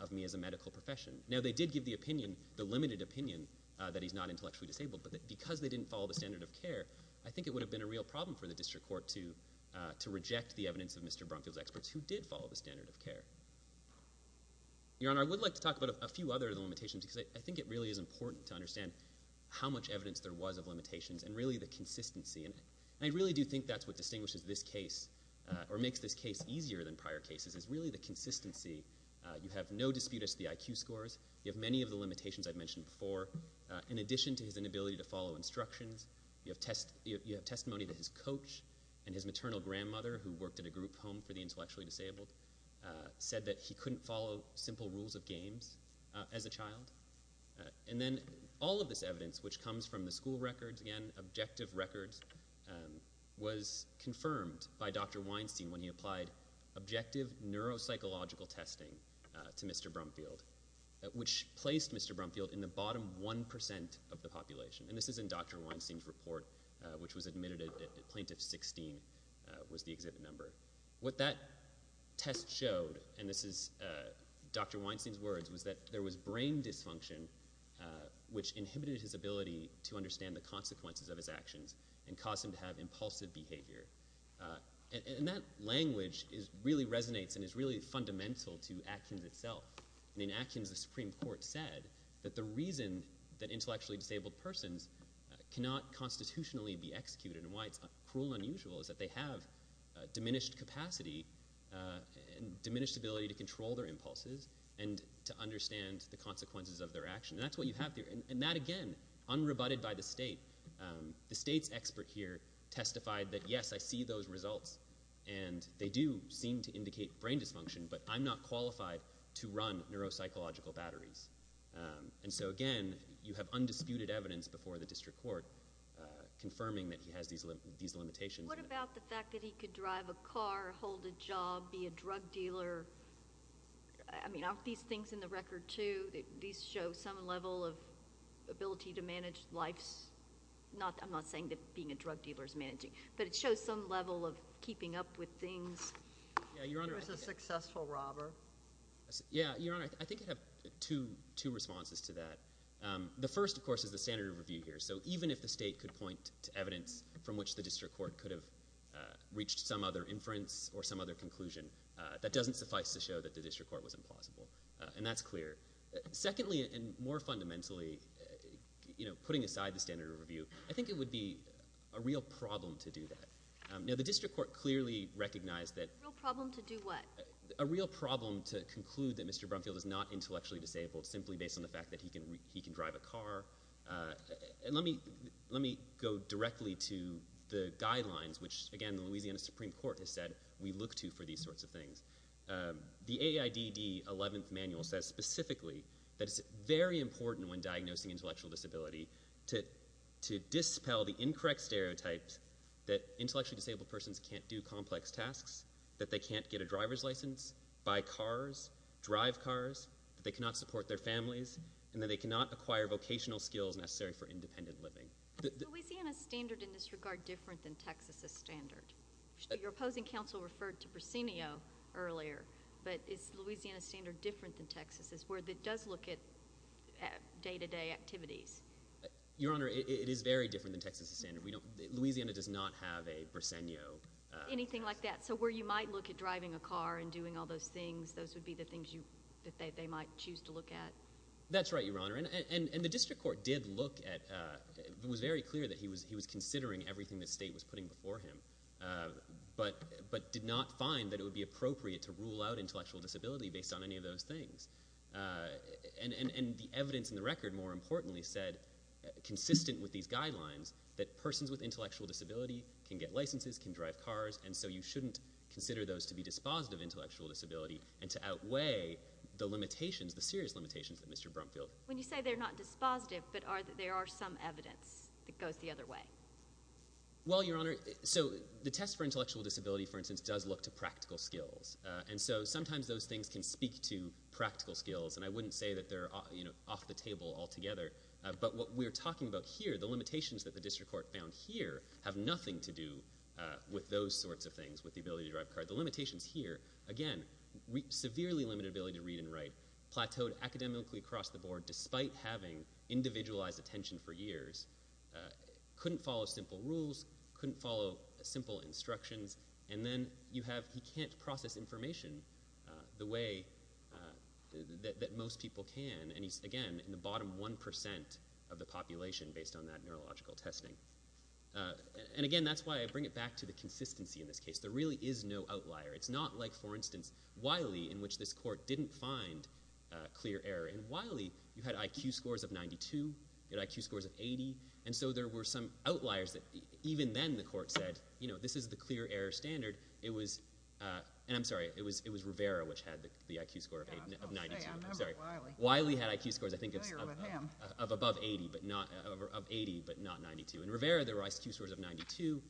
of me as a medical profession. Now, they did give the opinion, the limited opinion, that he's not intellectually disabled, but because they didn't follow the standard of care, I think it would have been a real problem for the district court to reject the evidence of Mr. Brumfield's experts who did follow the standard of care. Your Honor, I would like to talk about a few other of the limitations, because I think it really is important to understand how much evidence there was of limitations, and really the consistency in it. And I really do think that's what distinguishes this case, or makes this case easier than prior cases, is really the consistency. You have no dispute as to the IQ scores. You have many of the limitations I've mentioned before. In addition to his inability to follow instructions, you have testimony to his coach and his maternal grandmother, who worked at a group home for the intellectually disabled. Said that he couldn't follow simple rules of games as a child. And then all of this evidence, which comes from the school records, again, objective records, was confirmed by Dr. Weinstein when he applied objective neuropsychological testing to Mr. Brumfield, which placed Mr. Brumfield in the bottom 1% of the population. And this is in Dr. Weinstein's report, which was admitted at Plaintiff 16 was the exhibit number. What that test showed, and this is Dr. Weinstein's words, was that there was brain dysfunction, which inhibited his ability to understand the consequences of his actions, and caused him to have impulsive behavior. And that language really resonates and is really fundamental to actions itself. And in actions, the Supreme Court said that the reason that intellectually disabled persons cannot constitutionally be executed, and why it's cruel and unusual, is that they have diminished capacity and diminished ability to control their impulses and to understand the consequences of their action. And that's what you have there. And that, again, unrebutted by the state. The state's expert here testified that, yes, I see those results, and they do seem to indicate brain dysfunction, but I'm not qualified to run neuropsychological batteries. And so, again, you have undisputed evidence before the district court confirming that he has these limitations. What about the fact that he could drive a car, hold a job, be a drug dealer? I mean, aren't these things in the record, too? These show some level of ability to manage life's... I'm not saying that being a drug dealer is managing, but it shows some level of keeping up with things. Yeah, Your Honor... He was a successful robber. Yeah, Your Honor, I think I have two responses to that. The first, of course, is the standard of review here. So even if the state could point to evidence from which the district court could have reached some other inference or some other conclusion, that doesn't suffice to show that the district court was implausible. And that's clear. Secondly, and more fundamentally, putting aside the standard of review, I think it would be a real problem to do that. Now, the district court clearly recognized that... A real problem to do what? A real problem to conclude that Mr. Brumfield is not intellectually disabled simply based on the fact that he can drive a car. And let me go directly to the guidelines, which, again, the Louisiana Supreme Court has said we look to for these sorts of things. The AIDD 11th Manual says specifically that it's very important when diagnosing intellectual disability to dispel the incorrect stereotypes that intellectually disabled persons can't do complex tasks, that they can't get a driver's license, buy cars, drive cars, that they cannot support their families, and that they cannot acquire vocational skills necessary for independent living. Is Louisiana's standard in this regard different than Texas's standard? Your opposing counsel referred to Briseno earlier, but is Louisiana's standard different than Texas's, where it does look at day-to-day activities? Your Honor, it is very different than Texas's standard. Louisiana does not have a Briseno... Anything like that. So where you might look at driving a car and doing all those things, those would be the things that you might choose to look at. That's right, Your Honor. And the district court did look at... It was very clear that he was considering everything the state was putting before him, but did not find that it would be appropriate to rule out intellectual disability based on any of those things. And the evidence in the record, more importantly, said, consistent with these guidelines, that persons with intellectual disability can get licenses, can drive cars, and so you shouldn't consider those to be dispositive intellectual disability and to outweigh the limitations, the serious limitations that Mr. Brumfield... When you say they're not dispositive, but there are some evidence that goes the other way. Well, Your Honor, so the test for intellectual disability, for instance, does look to practical skills. And so sometimes those things can speak to practical skills, and I wouldn't say that they're off the table altogether, but what we're talking about here, the limitations that the district court found here have nothing to do with those sorts of things, with the limitations here, again, severely limited ability to read and write, plateaued academically across the board despite having individualized attention for years, couldn't follow simple rules, couldn't follow simple instructions, and then you have... He can't process information the way that most people can, and he's, again, in the bottom 1% of the population based on that neurological testing. And again, that's why I bring it back to the consistency in this case. There really is no outlier. It's not like, for instance, Wiley, in which this court didn't find clear error. In Wiley, you had IQ scores of 92, you had IQ scores of 80, and so there were some outliers that even then the court said, this is the clear error standard. It was... And I'm sorry, it was Rivera which had the IQ score of 92. I'm sorry. Wiley had IQ scores, I think, of above 80, but not 92. In Rivera, there were IQ scores of 92,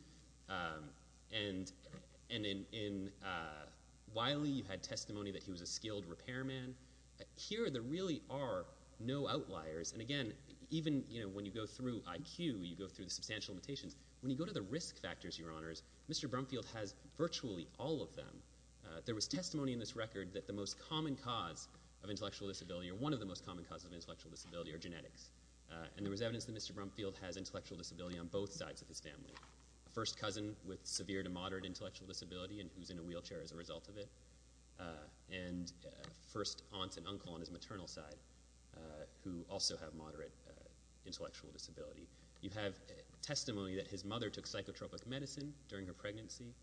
and in Wiley, you had testimony that he was a skilled repairman. Here, there really are no outliers. And again, even when you go through IQ, you go through the substantial limitations. When you go to the risk factors, Your Honors, Mr. Brumfield has virtually all of them. There was testimony in this record that the most common cause of intellectual disability, or one of the most common causes of intellectual disability, are genetics. And there was evidence that Mr. Brumfield has intellectual disability on both sides of his family. A first cousin with severe to moderate intellectual disability and who's in a wheelchair as a result of it. And a first aunt and uncle on his maternal side who also have moderate intellectual disability. You have testimony that his mother took psychotropic medicine during her pregnancy.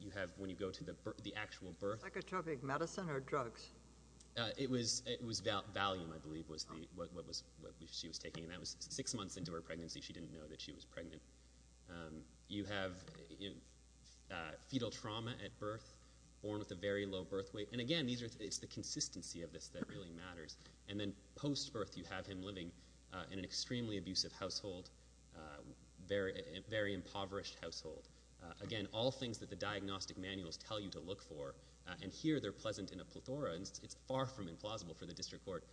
You have, when you go to the actual birth... Psychotropic medicine or drugs? It was Valium, I believe, was what she was taking. And that was six months into her pregnancy. She didn't know that she was pregnant. You have fetal trauma at birth, born with a very low birth weight. And again, it's the consistency of this that really matters. And then post-birth, you have him living in an extremely abusive household, very impoverished household. Again, all things that the diagnostic manuals tell you to look for. And here, they're pleasant in a plethora. And it's far from implausible for the district court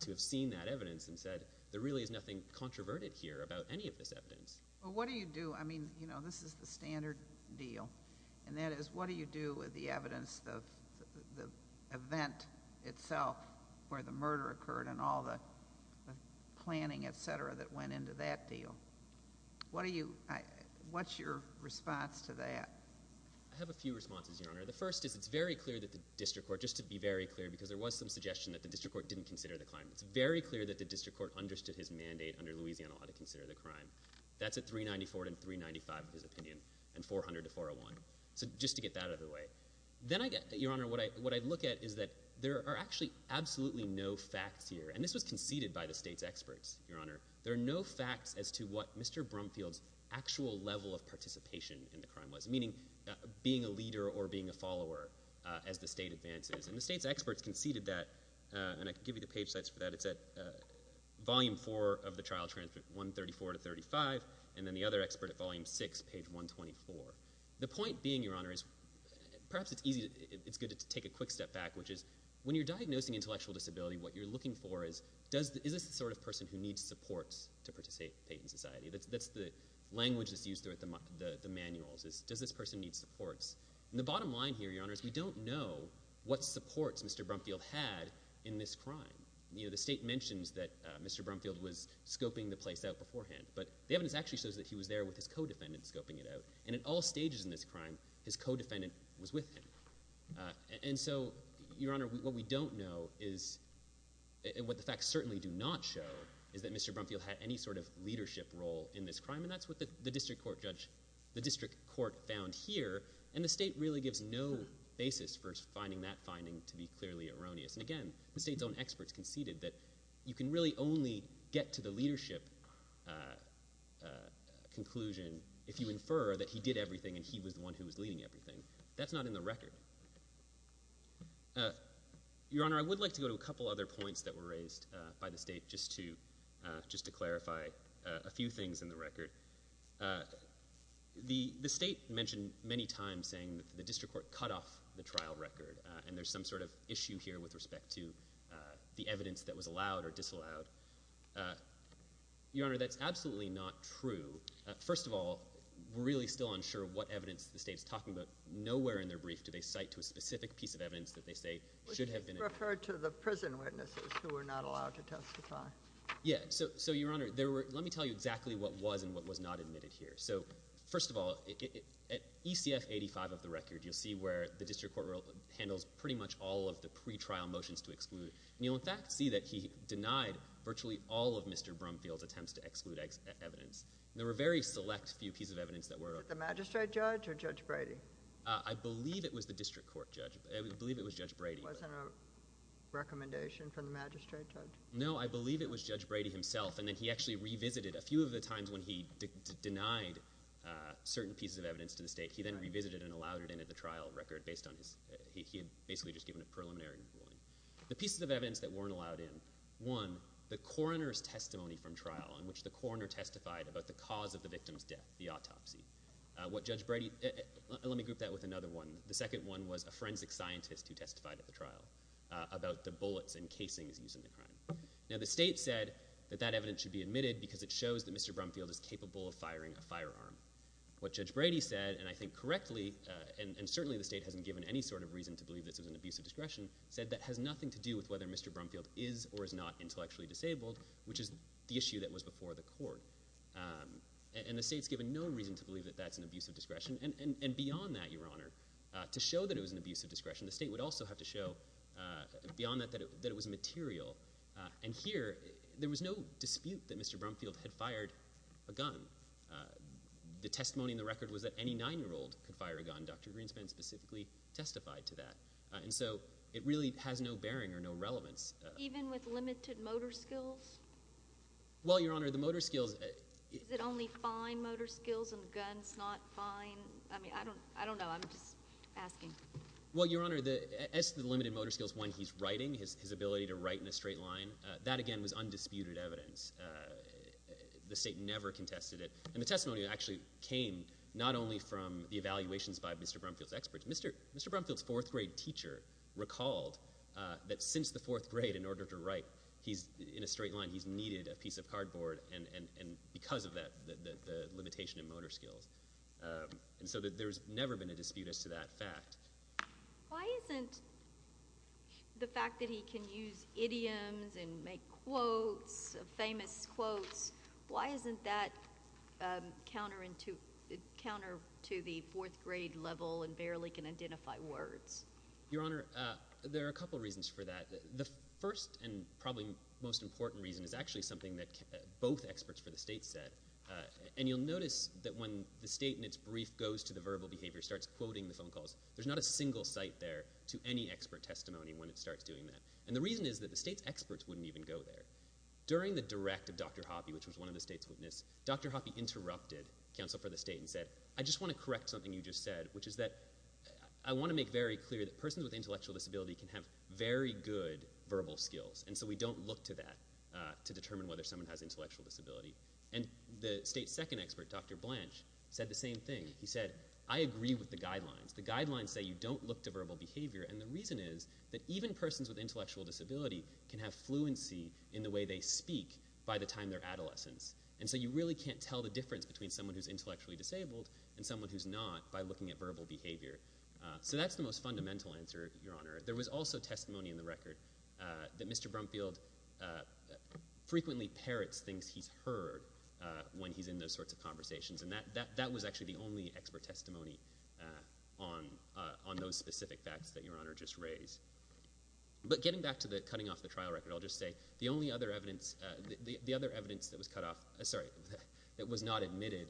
to have seen that evidence and said, there really is nothing controverted here about any of this evidence. Well, what do you do? I mean, this is the standard deal. And that is, what do you do with the evidence of the event itself where the murder occurred and all the planning, et cetera, that went into that deal? I have a few responses, Your Honor. The first is, it's very clear that the district court, just to be very clear, because there was some suggestion that the district court didn't consider the crime. It's very clear that the district court understood his mandate under Louisiana law to consider the crime. That's at 394 and 395, his opinion, and 400 to 401. So just to get that out of the way. Then I get, Your Honor, what I look at is that there are actually absolutely no facts here. And this was conceded by the state's experts, Your Honor. There are no facts as to what Mr. Brumfield's actual level of participation in the crime was, meaning being a leader or being a follower as the state advances. And the state's experts conceded that. And I can give you the page sites for that. It's at volume four of the trial transcript, 134 to 35, and then the other expert at volume six, page 124. The point being, Your Honor, is perhaps it's good to take a quick step back, which is, when you're diagnosing intellectual disability, what you're looking for is, is this the sort of person who needs support to participate in society? That's the language that's used throughout the manuals is, does this person need supports? And the bottom line here, Your Honor, is we don't know what supports Mr. Brumfield had in this crime. The state mentions that Mr. Brumfield was scoping the place out beforehand. But the evidence actually shows that he was there with his co-defendant scoping it out. And at all stages in this crime, his co-defendant was with him. And so, Your Honor, what we don't know is, and what the facts certainly do not show, is that Mr. Brumfield had any sort of leadership role in this crime. And that's what the district court judge, the district court found here. And the state really gives no basis for finding that finding to be clearly erroneous. And again, the state's own experts conceded that you can really only get to the leadership conclusion if you infer that he did everything and he was the one who was leading everything. That's not in the record. Your Honor, I would like to go to a couple other points that were raised by the state, just to clarify a few things in the record. The state mentioned many times saying that the district court cut off the trial record. And there's some sort of issue here with respect to the evidence that was allowed or disallowed. Your Honor, that's absolutely not true. First of all, we're really still unsure what evidence the state's talking about. Nowhere in their brief do they cite to a specific piece of evidence that they say should have been- Referred to the prison witnesses who were not allowed to testify. Yeah. So Your Honor, let me tell you exactly what was and what was not admitted here. So first of all, at ECF 85 of the record, you'll see where the district court handles pretty much all of the pretrial motions to exclude. And you'll in fact see that he denied virtually all of Mr. Brumfield's attempts to exclude evidence. There were very select few pieces of evidence that were- The magistrate judge or Judge Brady? I believe it was the district court judge. I believe it was Judge Brady. Wasn't a recommendation from the magistrate judge? No, I believe it was Judge Brady himself. And then he actually revisited a few of the times when he denied certain pieces of evidence to the state. He then revisited and allowed it into the trial record based on his- He had basically just given a preliminary ruling. The pieces of evidence that weren't allowed in, one, the coroner's testimony from trial in which the coroner testified about the cause of the victim's death, the autopsy. What Judge Brady- Let me group that with another one. The second one was a forensic scientist who testified at the trial about the bullets and casings used in the crime. Now the state said that that evidence should be admitted because it shows that Mr. Brumfield is capable of firing a firearm. What Judge Brady said, and I think correctly, and certainly the state hasn't given any sort of reason to believe this is an abuse of discretion, said that has nothing to do with whether Mr. Brumfield is or is not intellectually disabled, which is the issue that was before the court. And the state's given no reason to believe that that's an abuse of discretion. And beyond that, Your Honor, to show that it was an abuse of discretion, the state would also have to show, beyond that, that it was material. And here, there was no dispute that Mr. Brumfield had fired a gun. The testimony in the record was that any nine-year-old could fire a gun. Dr. Greenspan specifically testified to that. And so it really has no bearing or no relevance. Even with limited motor skills? Well, Your Honor, the motor skills- Is it only fine motor skills and guns not fine? I mean, I don't know. I'm just asking. Well, Your Honor, as to the limited motor skills when he's writing, his ability to write in a straight line, that, again, was undisputed evidence. The state never contested it. And the testimony actually came not only from the evaluations by Mr. Brumfield's experts. Mr. Brumfield's fourth-grade teacher recalled that since the fourth grade, in order to write in a straight line, he's needed a piece of cardboard, and because of that, the limitation in motor skills. And so there's never been a dispute as to that fact. Why isn't the fact that he can use idioms and make quotes, famous quotes, why isn't that counter to the fourth-grade level and barely can identify words? Your Honor, there are a couple reasons for that. The first and probably most important reason is actually something that both experts for the state said. And you'll notice that when the state in its brief goes to the verbal behavior, starts quoting the phone calls, there's not a single site there to any expert testimony when it starts doing that. And the reason is that the state's experts wouldn't even go there. During the direct of Dr. Hoppe, which was one of the state's witnesses, Dr. Hoppe interrupted counsel for the state and said, I just want to correct something you just said, which is that I want to make very clear that persons with intellectual disability can have very good verbal skills. And so we don't look to that to determine whether someone has intellectual disability. And the state's second expert, Dr. Blanche, said the same thing. He said, I agree with the guidelines. The guidelines say you don't look to verbal behavior. And the reason is that even persons with intellectual disability can have fluency in the way they speak by the time they're adolescents. And so you really can't tell the difference between someone who's intellectually disabled and someone who's not by looking at verbal behavior. So that's the most fundamental answer, Your Honor. There was also testimony in the record that Mr. Brumfield frequently parrots things he's heard when he's in those sorts of conversations. And that was actually the only expert testimony on those specific facts that Your Honor just raised. But getting back to the cutting off the trial record, I'll just say the only other evidence that was cut off, sorry, that was not admitted,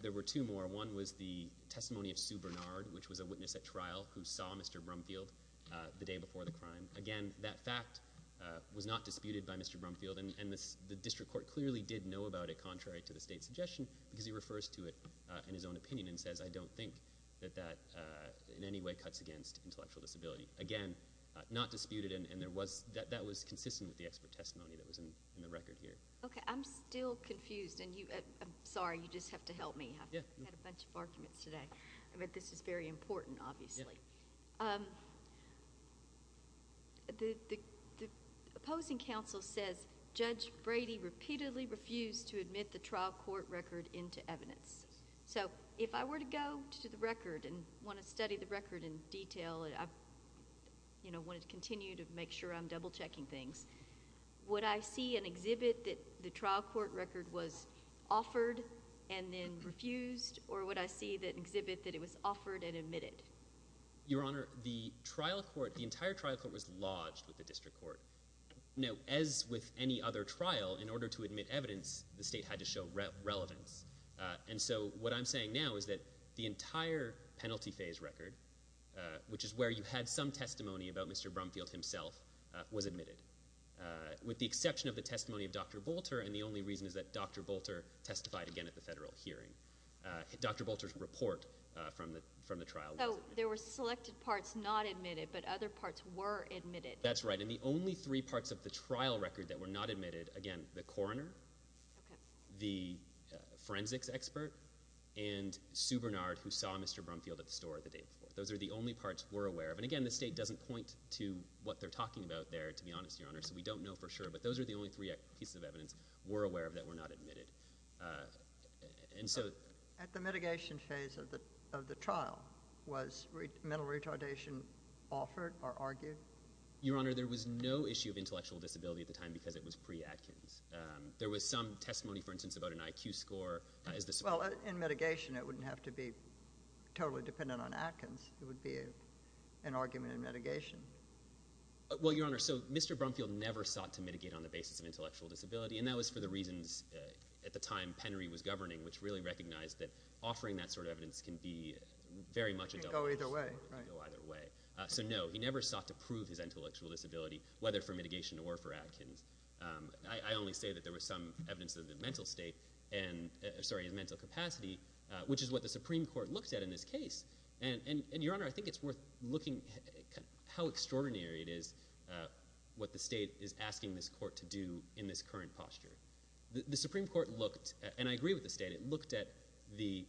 there were two more. One was the testimony of Sue Bernard, which was a witness at trial who saw Mr. Brumfield the day before the crime. Again, that fact was not disputed by Mr. Brumfield. And the district court clearly did know about it, contrary to the state's suggestion, because he refers to it in his own opinion and says, I don't think that that in any way cuts against intellectual disability. Again, not disputed. And that was consistent with the expert testimony that was in the record here. OK, I'm still confused. And I'm sorry, you just have to help me. I've had a bunch of arguments today. But this is very important, obviously. The opposing counsel says Judge Brady repeatedly refused to admit the trial court record into evidence. So if I were to go to the record and want to study the record in detail, I want to continue to make sure I'm double checking things. Would I see an exhibit that the trial court record was offered and then refused? Or would I see an exhibit that it was offered and admitted? Your Honor, the entire trial court was lodged with the district court. Now, as with any other trial, in order to admit evidence, the state had to show relevance. And so what I'm saying now is that the entire penalty phase record, which is where you had some testimony about Mr. Brumfield himself, was admitted. With the exception of the testimony of Dr. Bolter. And the only reason is that Dr. Bolter testified again at the federal hearing. Dr. Bolter's report from the trial was admitted. So there were selected parts not admitted, but other parts were admitted. That's right. And the only three parts of the trial record that were not admitted, again, the coroner, the forensics expert, and Sue Bernard, who saw Mr. Brumfield at the store the day before. Those are the only parts we're aware of. And again, the state doesn't point to what they're talking about there, to be honest, Your Honor. So we don't know for sure. But those are the only three pieces of evidence we're aware of that were not admitted. And so— At the mitigation phase of the trial, was mental retardation offered or argued? Your Honor, there was no issue of intellectual disability at the time because it was pre-Atkins. There was some testimony, for instance, about an IQ score as the— Well, in mitigation, it wouldn't have to be totally dependent on Atkins. It would be an argument in mitigation. Well, Your Honor, so Mr. Brumfield never sought to mitigate on the basis of intellectual disability, and that was for the reasons, at the time, Penry was governing, which really recognized that offering that sort of evidence can be very much— It can go either way. It can go either way. So no, he never sought to prove his intellectual disability, whether for mitigation or for Atkins. I only say that there was some evidence of his mental state and— sorry, his mental capacity, which is what the Supreme Court looked at in this case. And, Your Honor, I think it's worth looking at how extraordinary it is what the state is asking this court to do in this current posture. The Supreme Court looked, and I agree with the state, it looked at the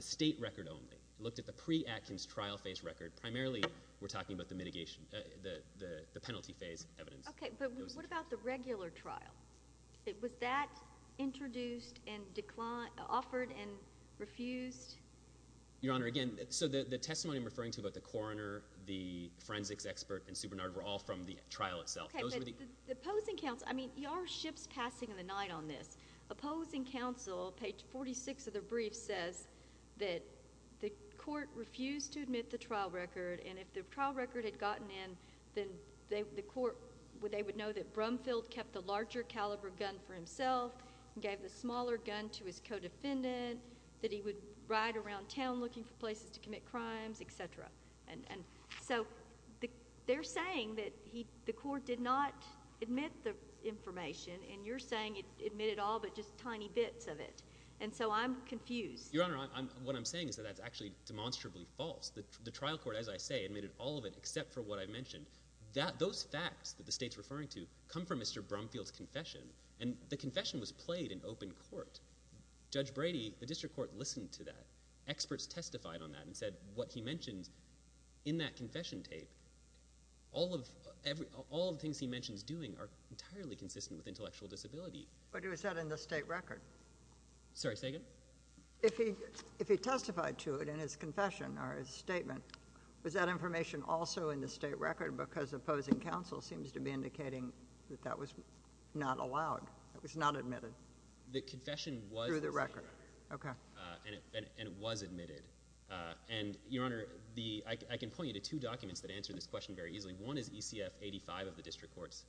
state record only. It looked at the pre-Atkins trial phase record. Primarily, we're talking about the mitigation, the penalty phase evidence. Okay, but what about the regular trial? Was that introduced and offered and refused? Your Honor, again, so the testimony I'm referring to about the coroner, the forensics expert, and Superintendent, were all from the trial itself. Okay, but the opposing counsel— I mean, your ship's passing in the night on this. Opposing counsel, page 46 of the brief says that the court refused to admit the trial record, and if the trial record had gotten in, then the court, they would know that Brumfield kept the larger caliber gun for himself and gave the smaller gun to his co-defendant, that he would ride around town looking for places to commit crimes, et cetera. And so they're saying that the court did not admit the information, and you're saying it admitted all but just tiny bits of it. And so I'm confused. Your Honor, what I'm saying is that that's actually demonstrably false. The trial court, as I say, admitted all of it except for what I mentioned. Those facts that the State's referring to come from Mr. Brumfield's confession, and the confession was played in open court. Judge Brady, the district court, listened to that. Experts testified on that and said what he mentioned in that confession tape, all of the things he mentions doing are entirely consistent with intellectual disability. But it was said in the State record. Sorry, say again? If he testified to it in his confession or his statement, was that information also in the State record? Because opposing counsel seems to be indicating that that was not allowed. It was not admitted. The confession was in the State record, and it was admitted. And, Your Honor, I can point you to two documents that answer this question very easily. One is ECF 85 of the district courts,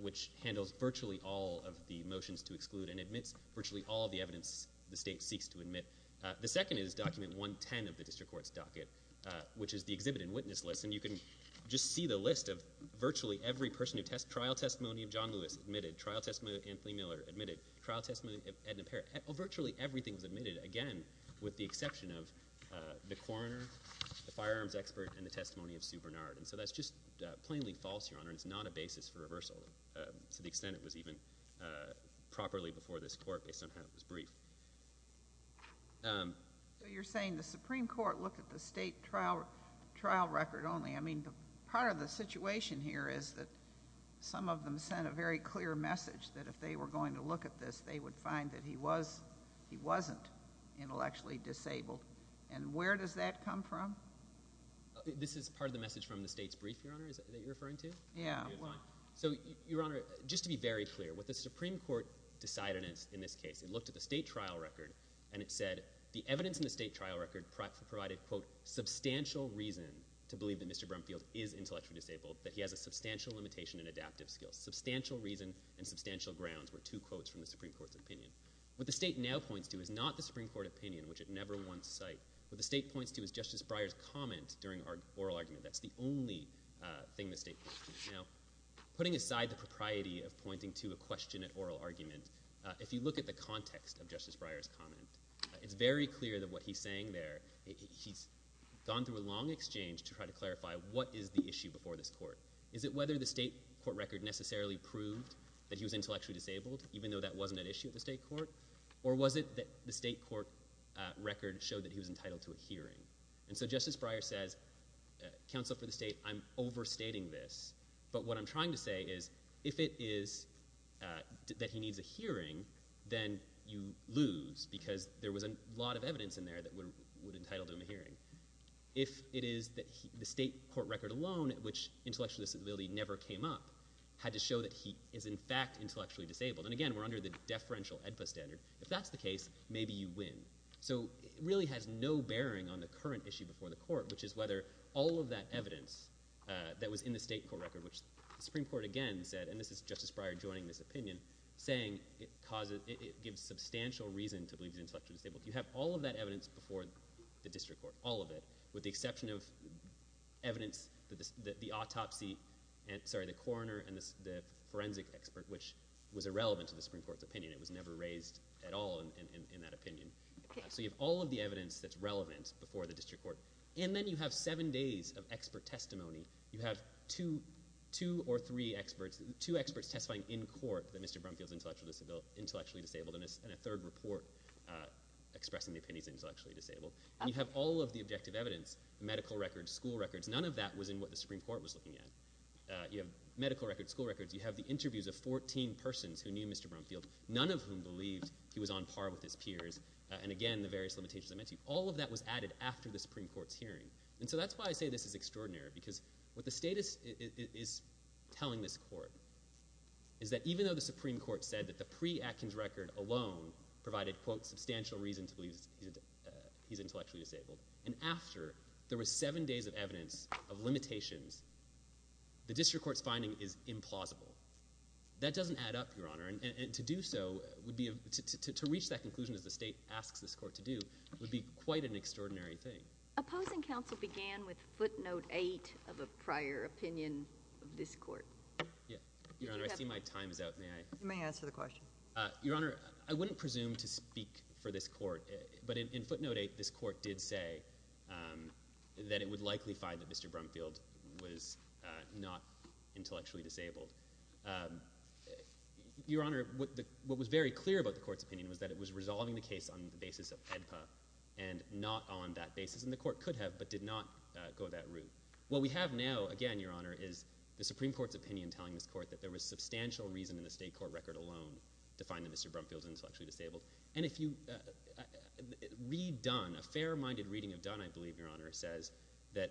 which handles virtually all of the motions to exclude and admits virtually all of the evidence the State seeks to admit. The second is document 110 of the district court's docket, which is the exhibit and witness list. And you can just see the list of virtually every person who test— trial testimony of John Lewis admitted, trial testimony of Anthony Miller admitted, trial testimony of Edna Parrott. Virtually everything was admitted, again, with the exception of the coroner, the firearms expert, and the testimony of Sue Bernard. And so that's just plainly false, Your Honor, and it's not a basis for reversal to the extent it was even properly before this court based on how it was briefed. So you're saying the Supreme Court looked at the State trial record only. I mean, part of the situation here is that some of them sent a very clear message that if they were going to look at this, they would find that he was— he wasn't intellectually disabled. And where does that come from? This is part of the message from the State's brief, Your Honor, that you're referring to? Yeah. So, Your Honor, just to be very clear, what the Supreme Court decided in this case, it looked at the State trial record and it said, the evidence in the State trial record provided, quote, substantial reason to believe that Mr. Brumfield is intellectually disabled, that he has a substantial limitation in adaptive skills. Substantial reason and substantial grounds were two quotes from the Supreme Court's opinion. What the State now points to is not the Supreme Court opinion, which it never once cited. What the State points to is Justice Breyer's comment during oral argument. That's the only thing the State points to. Now, putting aside the propriety of pointing to a question at oral argument, if you look at the context of Justice Breyer's comment, it's very clear that what he's saying there, he's gone through a long exchange to try to clarify what is the issue before this court. Is it whether the State court record necessarily proved that he was intellectually disabled, even though that wasn't an issue at the State court? Or was it that the State court record showed that he was entitled to a hearing? And so Justice Breyer says, counsel for the State, I'm overstating this. But what I'm trying to say is, if it is that he needs a hearing, then you lose because there was a lot of evidence in there that would entitle him a hearing. If it is that the State court record alone, which intellectually disability never came up, had to show that he is in fact intellectually disabled. And again, we're under the deferential EDPA standard. If that's the case, maybe you win. All of that evidence that was in the State court record, which the Supreme Court again said, and this is Justice Breyer joining this opinion, saying it gives substantial reason to believe he's intellectually disabled. You have all of that evidence before the District Court, all of it, with the exception of evidence that the autopsy, sorry, the coroner and the forensic expert, which was irrelevant to the Supreme Court's opinion. It was never raised at all in that opinion. So you have all of the evidence that's relevant before the District Court. And then you have seven days of expert testimony. You have two or three experts, two experts testifying in court that Mr. Brumfield is intellectually disabled, and a third report expressing the opinion he's intellectually disabled. You have all of the objective evidence, medical records, school records. None of that was in what the Supreme Court was looking at. You have medical records, school records. You have the interviews of 14 persons who knew Mr. Brumfield, none of whom believed he was on par with his peers. And again, the various limitations I mentioned. All of that was added after the Supreme Court's hearing. And so that's why I say this is extraordinary, because what the state is telling this court is that even though the Supreme Court said that the pre-Atkins record alone provided, quote, substantial reason to believe he's intellectually disabled, and after there was seven days of evidence of limitations, the District Court's finding is implausible. That doesn't add up, Your Honor. And to do so would be, to reach that conclusion, as the state asks this court to do, would be quite an extraordinary thing. Opposing counsel began with footnote 8 of a prior opinion of this court. Yeah. Your Honor, I see my time is out. May I? You may answer the question. Your Honor, I wouldn't presume to speak for this court, but in footnote 8, this court did say that it would likely find that Mr. Brumfield was not intellectually disabled. Your Honor, what was very clear about the court's opinion was that it was resolving the case on the basis of AEDPA and not on that basis. And the court could have, but did not go that route. What we have now, again, Your Honor, is the Supreme Court's opinion telling this court that there was substantial reason in the state court record alone to find that Mr. Brumfield is intellectually disabled. And if you read Dunn, a fair-minded reading of Dunn, I believe, Your Honor, says that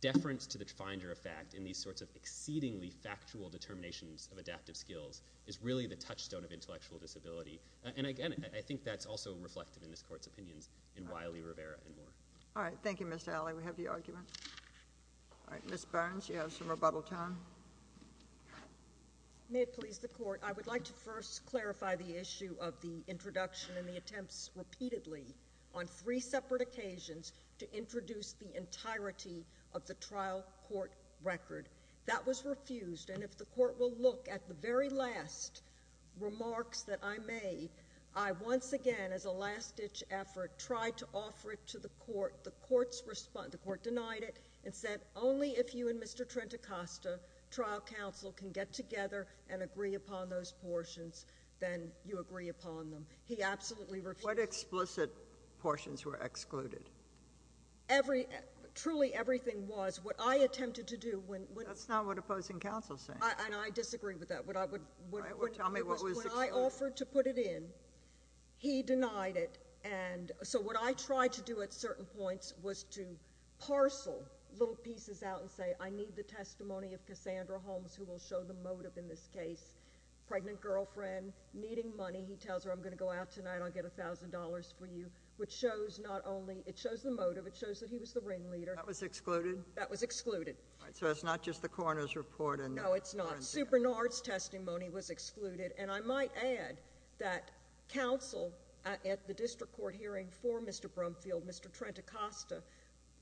deference to the finder of fact in these sorts of exceedingly factual determinations of adaptive skills is really the touchstone of intellectual disability. And again, I think that's also reflected in this court's opinions in Wiley, Rivera, and Moore. All right. Thank you, Mr. Alley. We have the argument. All right. Ms. Burns, you have some rebuttal time. May it please the court, I would like to first clarify the issue of the introduction and the attempts repeatedly on three separate occasions to introduce the entirety of the trial court record. That was refused. And if the court will look at the very last remarks that I made, I once again, as a last-ditch effort, tried to offer it to the court. The court denied it and said, only if you and Mr. Trent Acosta, trial counsel, can get together and agree upon those portions, then you agree upon them. He absolutely refused. What explicit portions were excluded? Truly everything was. What I attempted to do when— That's not what opposing counsel is saying. And I disagree with that. What I would— Tell me what was excluded. When I offered to put it in, he denied it. And so what I tried to do at certain points was to parcel little pieces out and say, I need the testimony of Cassandra Holmes, who will show the motive in this case. Pregnant girlfriend, needing money. He tells her, I'm going to go out tonight. I'll get $1,000 for you, which shows not only—it shows the motive. It shows that he was the ringleader. That was excluded? That was excluded. So it's not just the coroner's report and— No, it's not. Sue Bernard's testimony was excluded. And I might add that counsel at the district court hearing for Mr. Brumfield, Mr. Trent Acosta,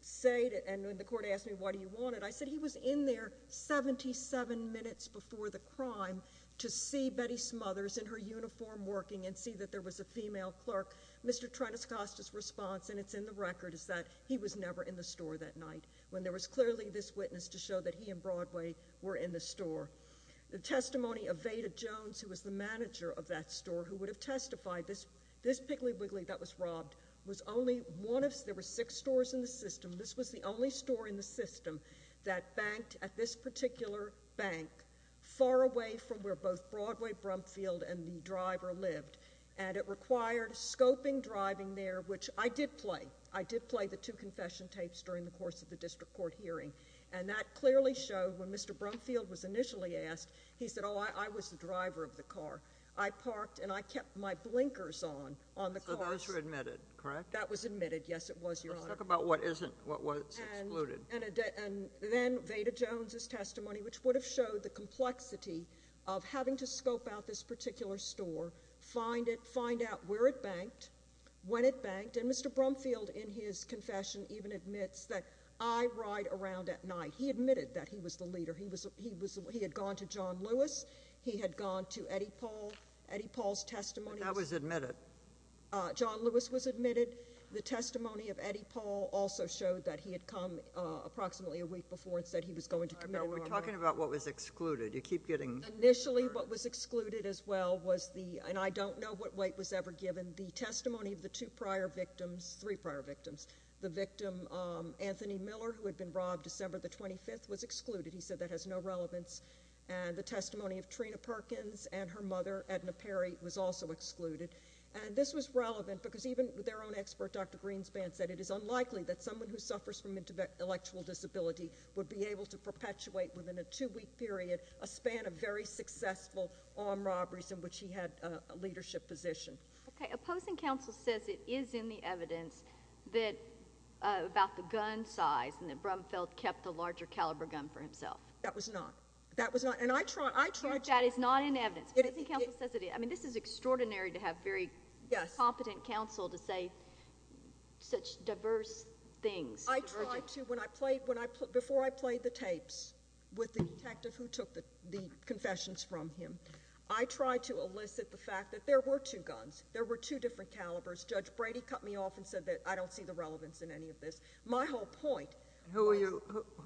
said—and when the court asked me, why do you want it? I said, he was in there 77 minutes before the crime to see Betty Smothers in her uniform working and see that there was a female clerk. Mr. Trent Acosta's response, and it's in the record, is that he was never in the store that when there was clearly this witness to show that he and Broadway were in the store. The testimony of Veda Jones, who was the manager of that store, who would have testified, this Piggly Wiggly that was robbed was only one of—there were six stores in the system. This was the only store in the system that banked at this particular bank, far away from where both Broadway, Brumfield, and the driver lived. And it required scoping driving there, which I did play. I did play the two confession tapes during the course of the district court hearing. And that clearly showed when Mr. Brumfield was initially asked, he said, oh, I was the driver of the car. I parked and I kept my blinkers on, on the car. So those were admitted, correct? That was admitted, yes, it was, Your Honor. Let's talk about what isn't—what was excluded. And then Veda Jones's testimony, which would have showed the complexity of having to scope out this particular store, find it, find out where it banked, when it banked. And Mr. Brumfield, in his confession, even admits that I ride around at night. He admitted that he was the leader. He was—he was—he had gone to John Lewis. He had gone to Eddie Paul. Eddie Paul's testimony— But that was admitted. John Lewis was admitted. The testimony of Eddie Paul also showed that he had come approximately a week before and said he was going to commit— We're talking about what was excluded. You keep getting— Initially, what was excluded as well was the—and I don't know what weight was ever given. The testimony of the two prior victims—three prior victims. The victim, Anthony Miller, who had been robbed December the 25th, was excluded. He said that has no relevance. And the testimony of Trina Perkins and her mother, Edna Perry, was also excluded. And this was relevant because even their own expert, Dr. Greenspan, said it is unlikely that someone who suffers from intellectual disability would be able to perpetuate within a two-week period a span of very successful armed robberies in which he had a leadership position. Okay. Opposing counsel says it is in the evidence that—about the gun size and that Brumfeld kept a larger caliber gun for himself. That was not. That was not. And I tried— That is not in evidence. Opposing counsel says it is. I mean, this is extraordinary to have very competent counsel to say such diverse things. I tried to—when I played—before I played the tapes with the detective who took the confessions from him, I tried to elicit the fact that there were two guns. There were two different calibers. Judge Brady cut me off and said that I don't see the relevance in any of this. My whole point— Who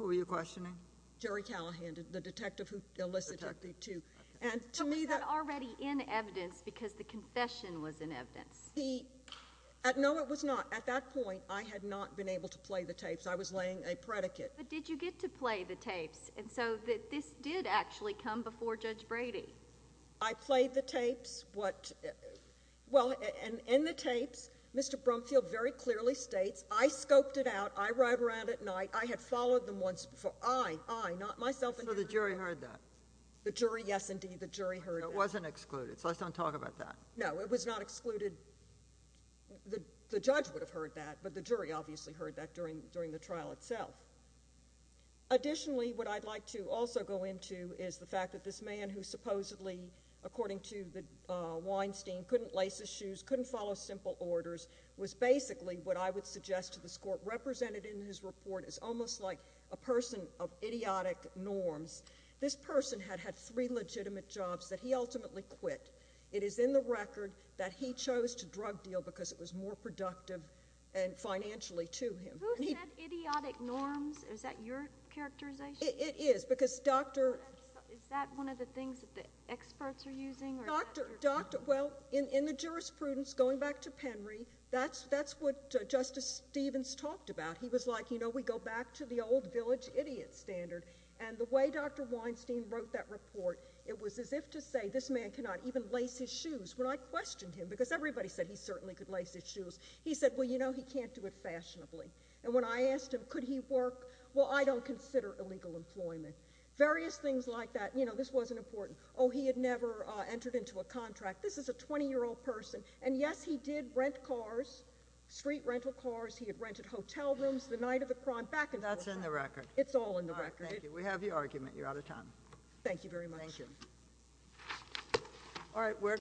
were you questioning? Jerry Callahan, the detective who elicited the two. And to me— But was that already in evidence because the confession was in evidence? The—no, it was not. At that point, I had not been able to play the tapes. I was laying a predicate. But did you get to play the tapes? And so this did actually come before Judge Brady. I played the tapes. What—well, and in the tapes, Mr. Brumfield very clearly states, I scoped it out. I rode around at night. I had followed them once before. I, I, not myself. So the jury heard that? The jury, yes, indeed. The jury heard that. It wasn't excluded. So let's not talk about that. No, it was not excluded. The judge would have heard that, but the jury obviously heard that during the trial itself. Additionally, what I'd like to also go into is the fact that this man who supposedly, according to Weinstein, couldn't lace his shoes, couldn't follow simple orders, was basically, what I would suggest to this Court, represented in his report as almost like a person of idiotic norms. This person had had three legitimate jobs that he ultimately quit. It is in the record that he chose to drug deal because it was more productive and financially to him. Who said idiotic norms? Is that your characterization? It is because Dr.— Is that one of the things that the experts are using? Dr., Dr., well, in, in the jurisprudence, going back to Penry, that's, that's what Justice Stevens talked about. He was like, you know, we go back to the old village idiot standard. And the way Dr. Weinstein wrote that report, it was as if to say this man cannot even lace his shoes. When I questioned him, because everybody said he certainly could lace his shoes, he said, well, you know, he can't do it fashionably. And when I asked him, could he work, well, I don't consider illegal employment. Various things like that. You know, this wasn't important. Oh, he had never entered into a contract. This is a 20-year-old person. And yes, he did rent cars, street rental cars. He had rented hotel rooms the night of the crime. Back and forth. That's in the record. It's all in the record. Thank you. We have your argument. You're out of time. Thank you very much. Thank you. All right.